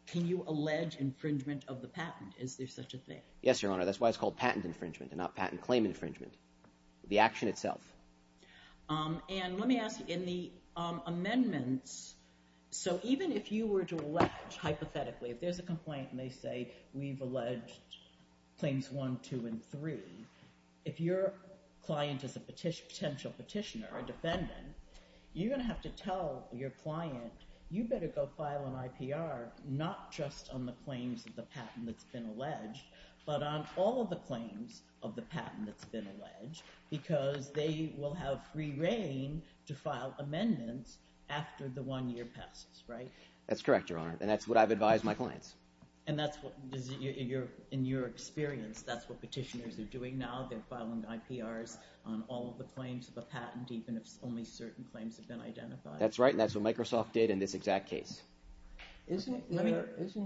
Can you allege infringement of the patent? Is there such a thing? Yes, Your Honor. That's why it's called patent infringement and not patent claim infringement, the action itself. And let me ask, in the amendments – so even if you were to allege hypothetically, if there's a complaint and they say we've alleged claims one, two, and three, if your client is a potential petitioner or defendant, you're going to have to tell your client you better go file an IPR not just on the claims of the patent that's been alleged. But on all of the claims of the patent that's been alleged because they will have free reign to file amendments after the one-year passes, right? That's correct, Your Honor, and that's what I've advised my clients. And that's what – in your experience, that's what petitioners are doing now. They're filing IPRs on all of the claims of a patent even if only certain claims have been identified. That's right, and that's what Microsoft did in this exact case. Isn't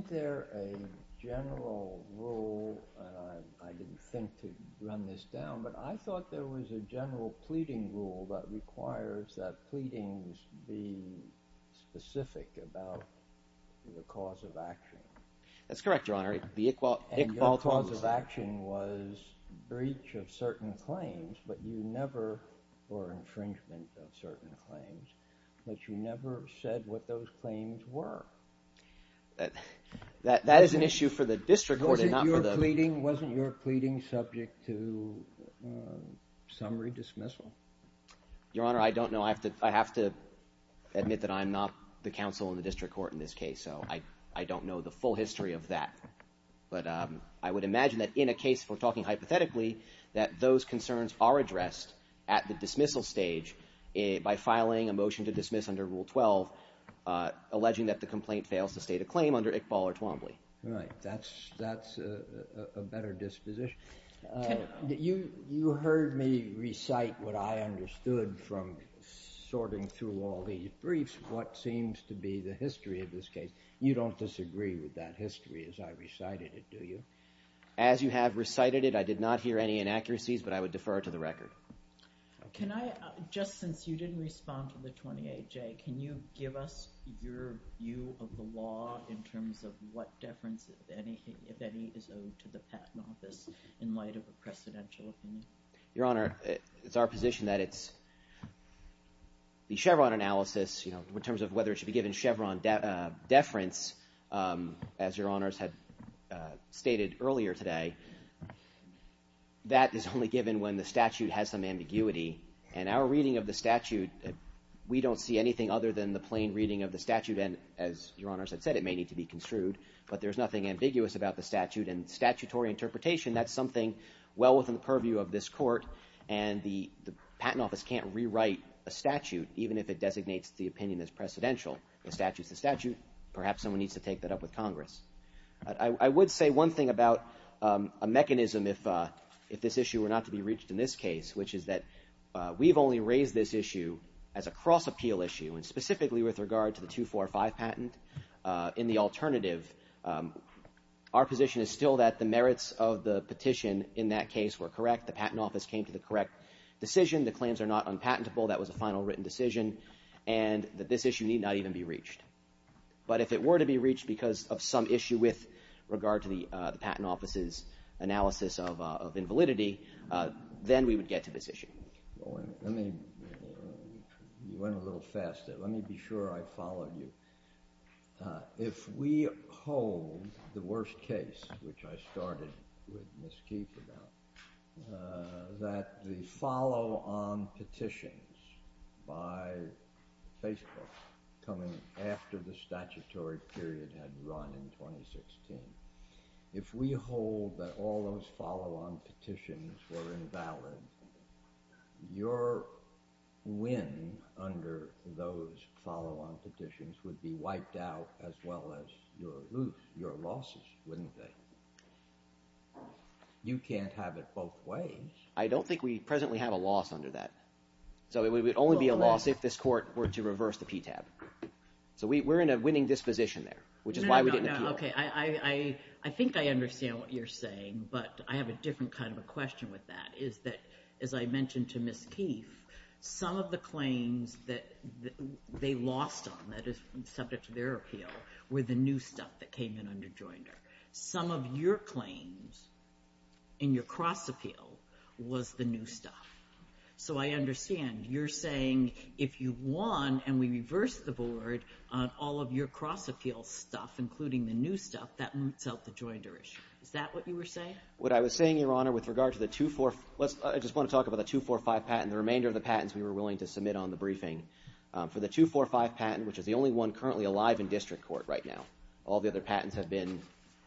there a general rule – I didn't think to run this down, but I thought there was a general pleading rule that requires that pleadings be specific about the cause of action. That's correct, Your Honor. And your cause of action was breach of certain claims, but you never were infringement of certain claims, but you never said what those claims were. That is an issue for the district court and not for the… Wasn't your pleading subject to summary dismissal? Your Honor, I don't know. I have to admit that I'm not the counsel in the district court in this case, so I don't know the full history of that. But I would imagine that in a case we're talking hypothetically that those concerns are addressed at the dismissal stage by filing a motion to dismiss under Rule 12, alleging that the complaint fails to state a claim under Iqbal or Twombly. Right. That's a better disposition. You heard me recite what I understood from sorting through all these briefs, what seems to be the history of this case. You don't disagree with that history as I recited it, do you? As you have recited it, I did not hear any inaccuracies, but I would defer to the record. Can I – just since you didn't respond to the 28J, can you give us your view of the law in terms of what deference, if any, is owed to the Patent Office in light of a precedential? Your Honor, it's our position that it's – the Chevron analysis in terms of whether it should be given Chevron deference, as Your Honors have stated earlier today, that is only given when the statute has some ambiguity. And our reading of the statute, we don't see anything other than the plain reading of the statute, and as Your Honors have said, it may need to be construed. But there's nothing ambiguous about the statute, and statutory interpretation, that's something well within purview of this court. And the Patent Office can't rewrite a statute even if it designates the opinion as precedential. The statute is the statute. Perhaps someone needs to take that up with Congress. I would say one thing about a mechanism if this issue were not to be reached in this case, which is that we've only raised this issue as a cross-appeal issue, and specifically with regard to the 245 patent. In the alternative, our position is still that the merits of the petition in that case were correct. The Patent Office came to the correct decision. The claims are not unpatentable. That was a final written decision, and that this issue need not even be reached. But if it were to be reached because of some issue with regard to the Patent Office's analysis of invalidity, then we would get to this issue. You went a little fast there. Let me be sure I follow you. If we hold the worst case, which I started with Ms. Keith about, that the follow-on petitions by Facebook coming after the statutory period had run in 2016, if we hold that all those follow-on petitions were invalid, your win under those follow-on petitions would be wiped out as well as your losses, wouldn't they? You can't have it both ways. I don't think we presently have a loss under that. So it would only be a loss if this court were to reverse the PTAB. So we're in a winning disposition there, which is why we didn't do it. I think I understand what you're saying, but I have a different kind of a question with that. As I mentioned to Ms. Keith, some of the claims that they lost on that is subject to their appeal were the new stuff that came in under Joyner. Some of your claims in your cross-appeal was the new stuff. So I understand. You're saying if you won and we reversed the board on all of your cross-appeal stuff, including the new stuff, that would help the Joyners. Is that what you were saying? What I was saying, Your Honor, with regard to the 245 – I just want to talk about the 245 patent. The remainder of the patents, we were willing to submit on the briefing. For the 245 patent, which is the only one currently alive in district court right now, all the other patents have been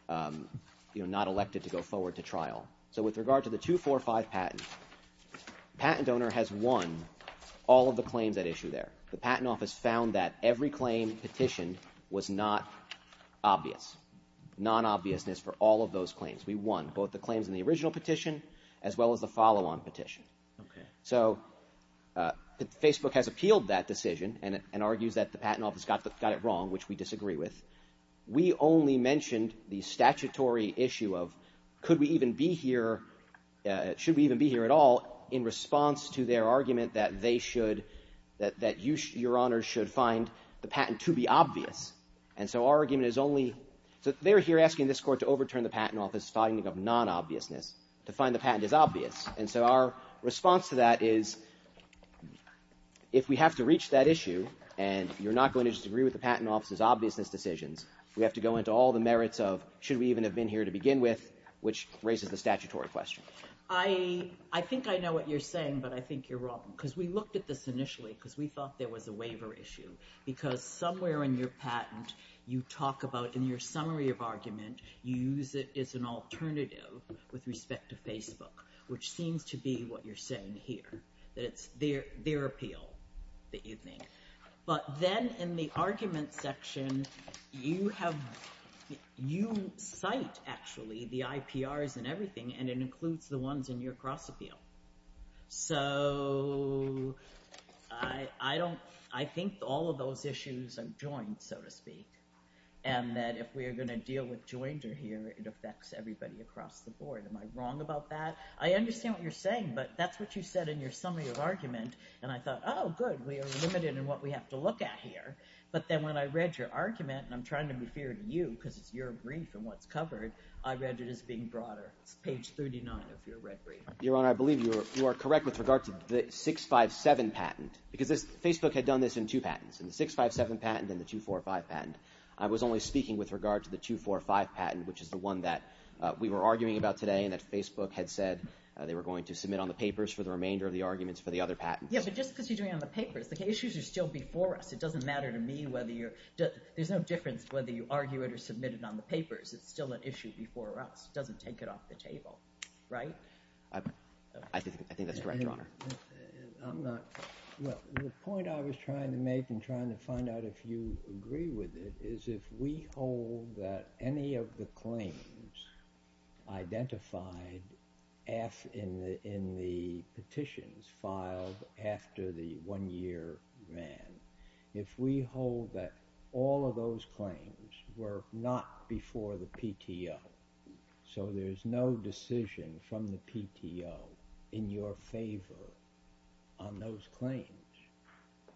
not elected to go forward to trial. So with regard to the 245 patent, the patent owner has won all of the claims at issue there. The Patent Office found that every claim petitioned was not obvious, non-obviousness for all of those claims. We won both the claims in the original petition as well as the follow-on petition. So Facebook has appealed that decision and argues that the Patent Office got it wrong, which we disagree with. We only mentioned the statutory issue of could we even be here – should we even be here at all in response to their argument that they should – that Your Honor should find the patent to be obvious. And so our argument is only – they're here asking this court to overturn the Patent Office's finding of non-obviousness, to find the patent as obvious. And so our response to that is if we have to reach that issue and you're not going to disagree with the Patent Office's obviousness decisions, we have to go into all the merits of should we even have been here to begin with, which raises the statutory question. I think I know what you're saying, but I think you're wrong because we looked at this initially because we thought there was a waiver issue because somewhere in your patent you talk about in your summary of argument you use it as an alternative with respect to Facebook, which seems to be what you're saying here, that it's their appeal that you think. But then in the argument section, you have – you cite, actually, the IPRs and everything, and it includes the ones in your cross-appeal. So I don't – I think all of those issues are joined, so to speak, and that if we are going to deal with Georgia here, it affects everybody across the board. Am I wrong about that? I understand what you're saying, but that's what you said in your summary of argument, and I thought, oh, good, we are limited in what we have to look at here. But then when I read your argument – and I'm trying to be fair to you because you're agreeing from what's covered – I read it as being broader, page 39 of your record. Your Honor, I believe you are correct with regard to the 657 patent because Facebook had done this in two patents, in the 657 patent and the 245 patent. I was only speaking with regard to the 245 patent, which is the one that we were arguing about today and that Facebook had said they were going to submit on the papers for the remainder of the arguments for the other patents. Yes, but just considering on the papers, the issues are still before us. It doesn't matter to me whether you're – there's no difference whether you argue it or submit it on the papers. It's still an issue before us. It doesn't take it off the table, right? I think that's right, Your Honor. I'm not – look, the point I was trying to make and trying to find out if you agree with it is if we hold that any of the claims identified in the petitions filed after the one-year ban, if we hold that all of those claims were not before the PTO, so there's no decision from the PTO in your favor. On those claims,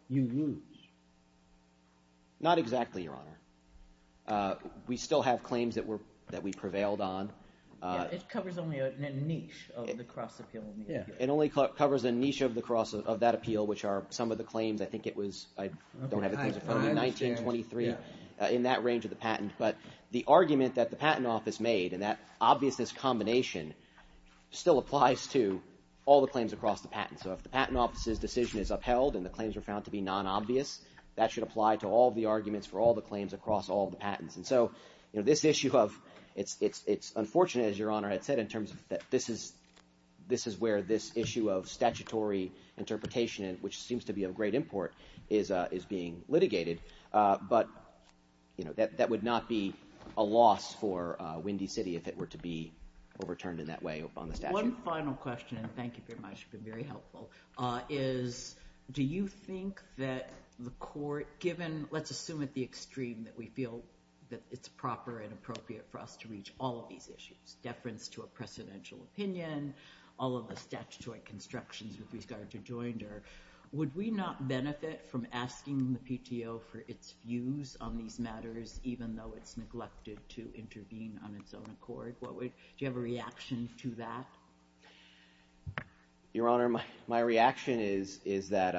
you lose. Not exactly, Your Honor. We still have claims that we prevailed on. It covers only a niche of the cross-appeal. It only covers a niche of the cross – of that appeal, which are some of the claims. I think it was – I don't have a – 19, 23, in that range of the patent. But the argument that the Patent Office made and that obviousness combination still applies to all the claims across the patent. So if the Patent Office's decision is upheld and the claims are found to be non-obvious, that should apply to all the arguments for all the claims across all the patents. And so this issue of – it's unfortunate, as Your Honor has said, in terms that this is where this issue of statutory interpretation, which seems to be of great import, is being litigated. But that would not be a loss for Windy City if it were to be overturned in that way upon the statute. One final question – and thank you very much. You've been very helpful – is do you think that the court, given – let's assume at the extreme that we feel that it's proper and appropriate for us to reach all of these issues – deference to a presidential opinion, all of the statutory constructions with regard to Joinder – would we not benefit from asking the PTO for its views on these matters even though it's neglected to intervene on its own accord? Do you have a reaction to that? Your Honor, my reaction is that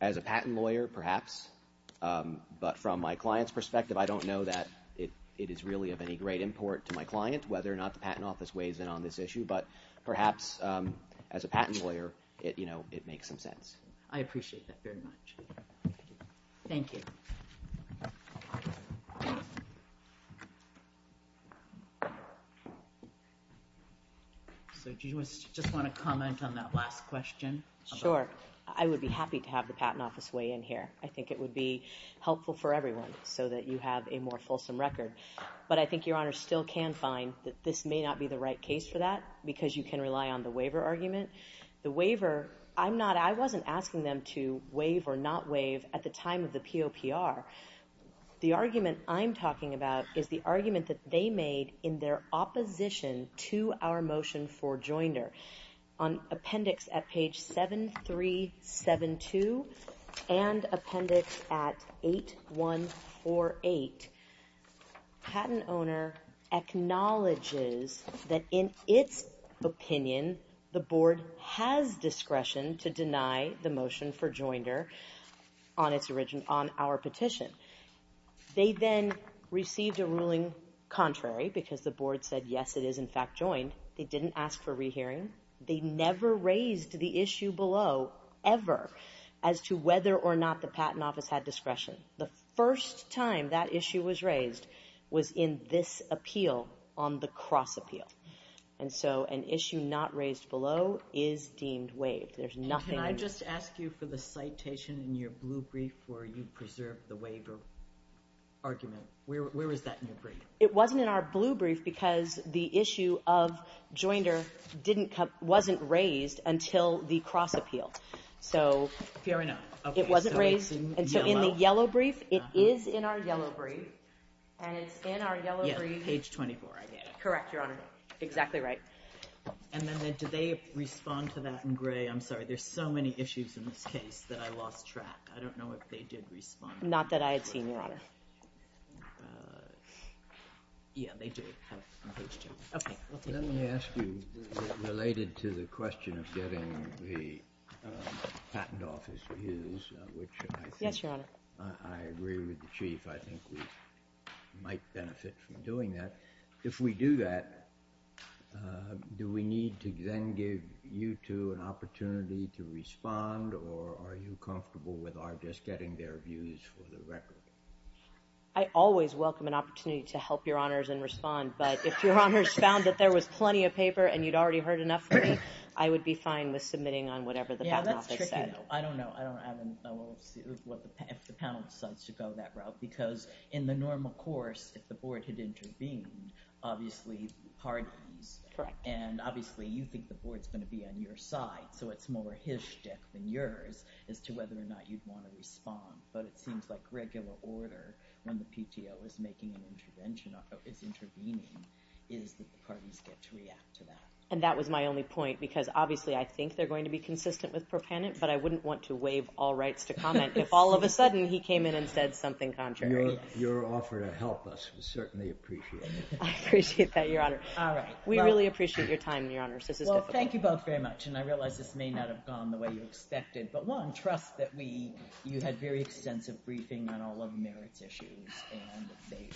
as a patent lawyer, perhaps, but from my client's perspective, I don't know that it is really of any great import to my client whether or not the Patent Office weighs in on this issue. But perhaps as a patent lawyer, it makes some sense. I appreciate that very much. Thank you. Do you just want to comment on that last question? Sure. I would be happy to have the Patent Office weigh in here. I think it would be helpful for everyone so that you have a more fulsome record. But I think Your Honor still can find that this may not be the right case for that because you can rely on the waiver argument. I wasn't asking them to waive or not waive at the time of the POPR. The argument I'm talking about is the argument that they made in their opposition to our motion for Joinder. On appendix at page 7372 and appendix at 8148, patent owner acknowledges that in its opinion, the board has discretion to deny the motion for Joinder on our petition. They then received a ruling contrary because the board said yes, it is in fact joined. They didn't ask for rehearing. They never raised the issue below ever as to whether or not the Patent Office had discretion. The first time that issue was raised was in this appeal on the cross appeal. And so an issue not raised below is deemed waived. Can I just ask you for the citation in your blue brief where you preserved the waiver argument? Where is that in your brief? It wasn't in our blue brief because the issue of Joinder wasn't raised until the cross appeal. So it wasn't raised. And so in the yellow brief, it is in our yellow brief. And it's in our yellow brief. Yes, page 24 I guess. Correct, Your Honor. Exactly right. And then did they respond to that in gray? I'm sorry. There's so many issues in this case that I lost track. I don't know if they did respond. Not that I had seen one. Yeah, they did. Okay. Let me ask you related to the question of getting the Patent Office to use, which I think I agree with the Chief. I think we might benefit from doing that. If we do that, do we need to then give you two an opportunity to respond? Or are you comfortable with our just getting their views for the record? I always welcome an opportunity to help Your Honors and respond. But if Your Honors found that there was plenty of paper and you'd already heard enough from me, I would be fine with submitting on whatever the Patent Office has. Yeah, that's tricky. I don't know. I don't know what the Patent says to go that route. Because in the normal course, if the board had intervened, obviously, and obviously you think the board's going to be on your side, so it's more his shift than yours as to whether or not you'd want to respond. But it seems like regular order when the PTO is making an intervention or is intervening is that the parties get to react to that. And that was my only point. Because obviously I think they're going to be consistent with proponent, but I wouldn't want to waive all rights to comment if all of a sudden he came in and said something contrary. Your offer to help us was certainly appreciated. I appreciate that, Your Honors. All right. We really appreciate your time, Your Honors. Well, thank you both very much. And I realize this may not have gone the way you expected. But one, trust that you had very extensive briefing on all of Merit's issues. And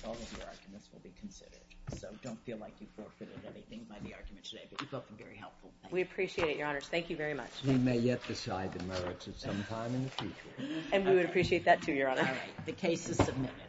all of the arguments will be considered. So don't feel like you forfeited anything by the arguments today. But you both were very helpful. We appreciate it, Your Honors. Thank you very much. We may yet decide the merits of some time in the future. And we would appreciate that, too, Your Honor. All right. The case is submitted.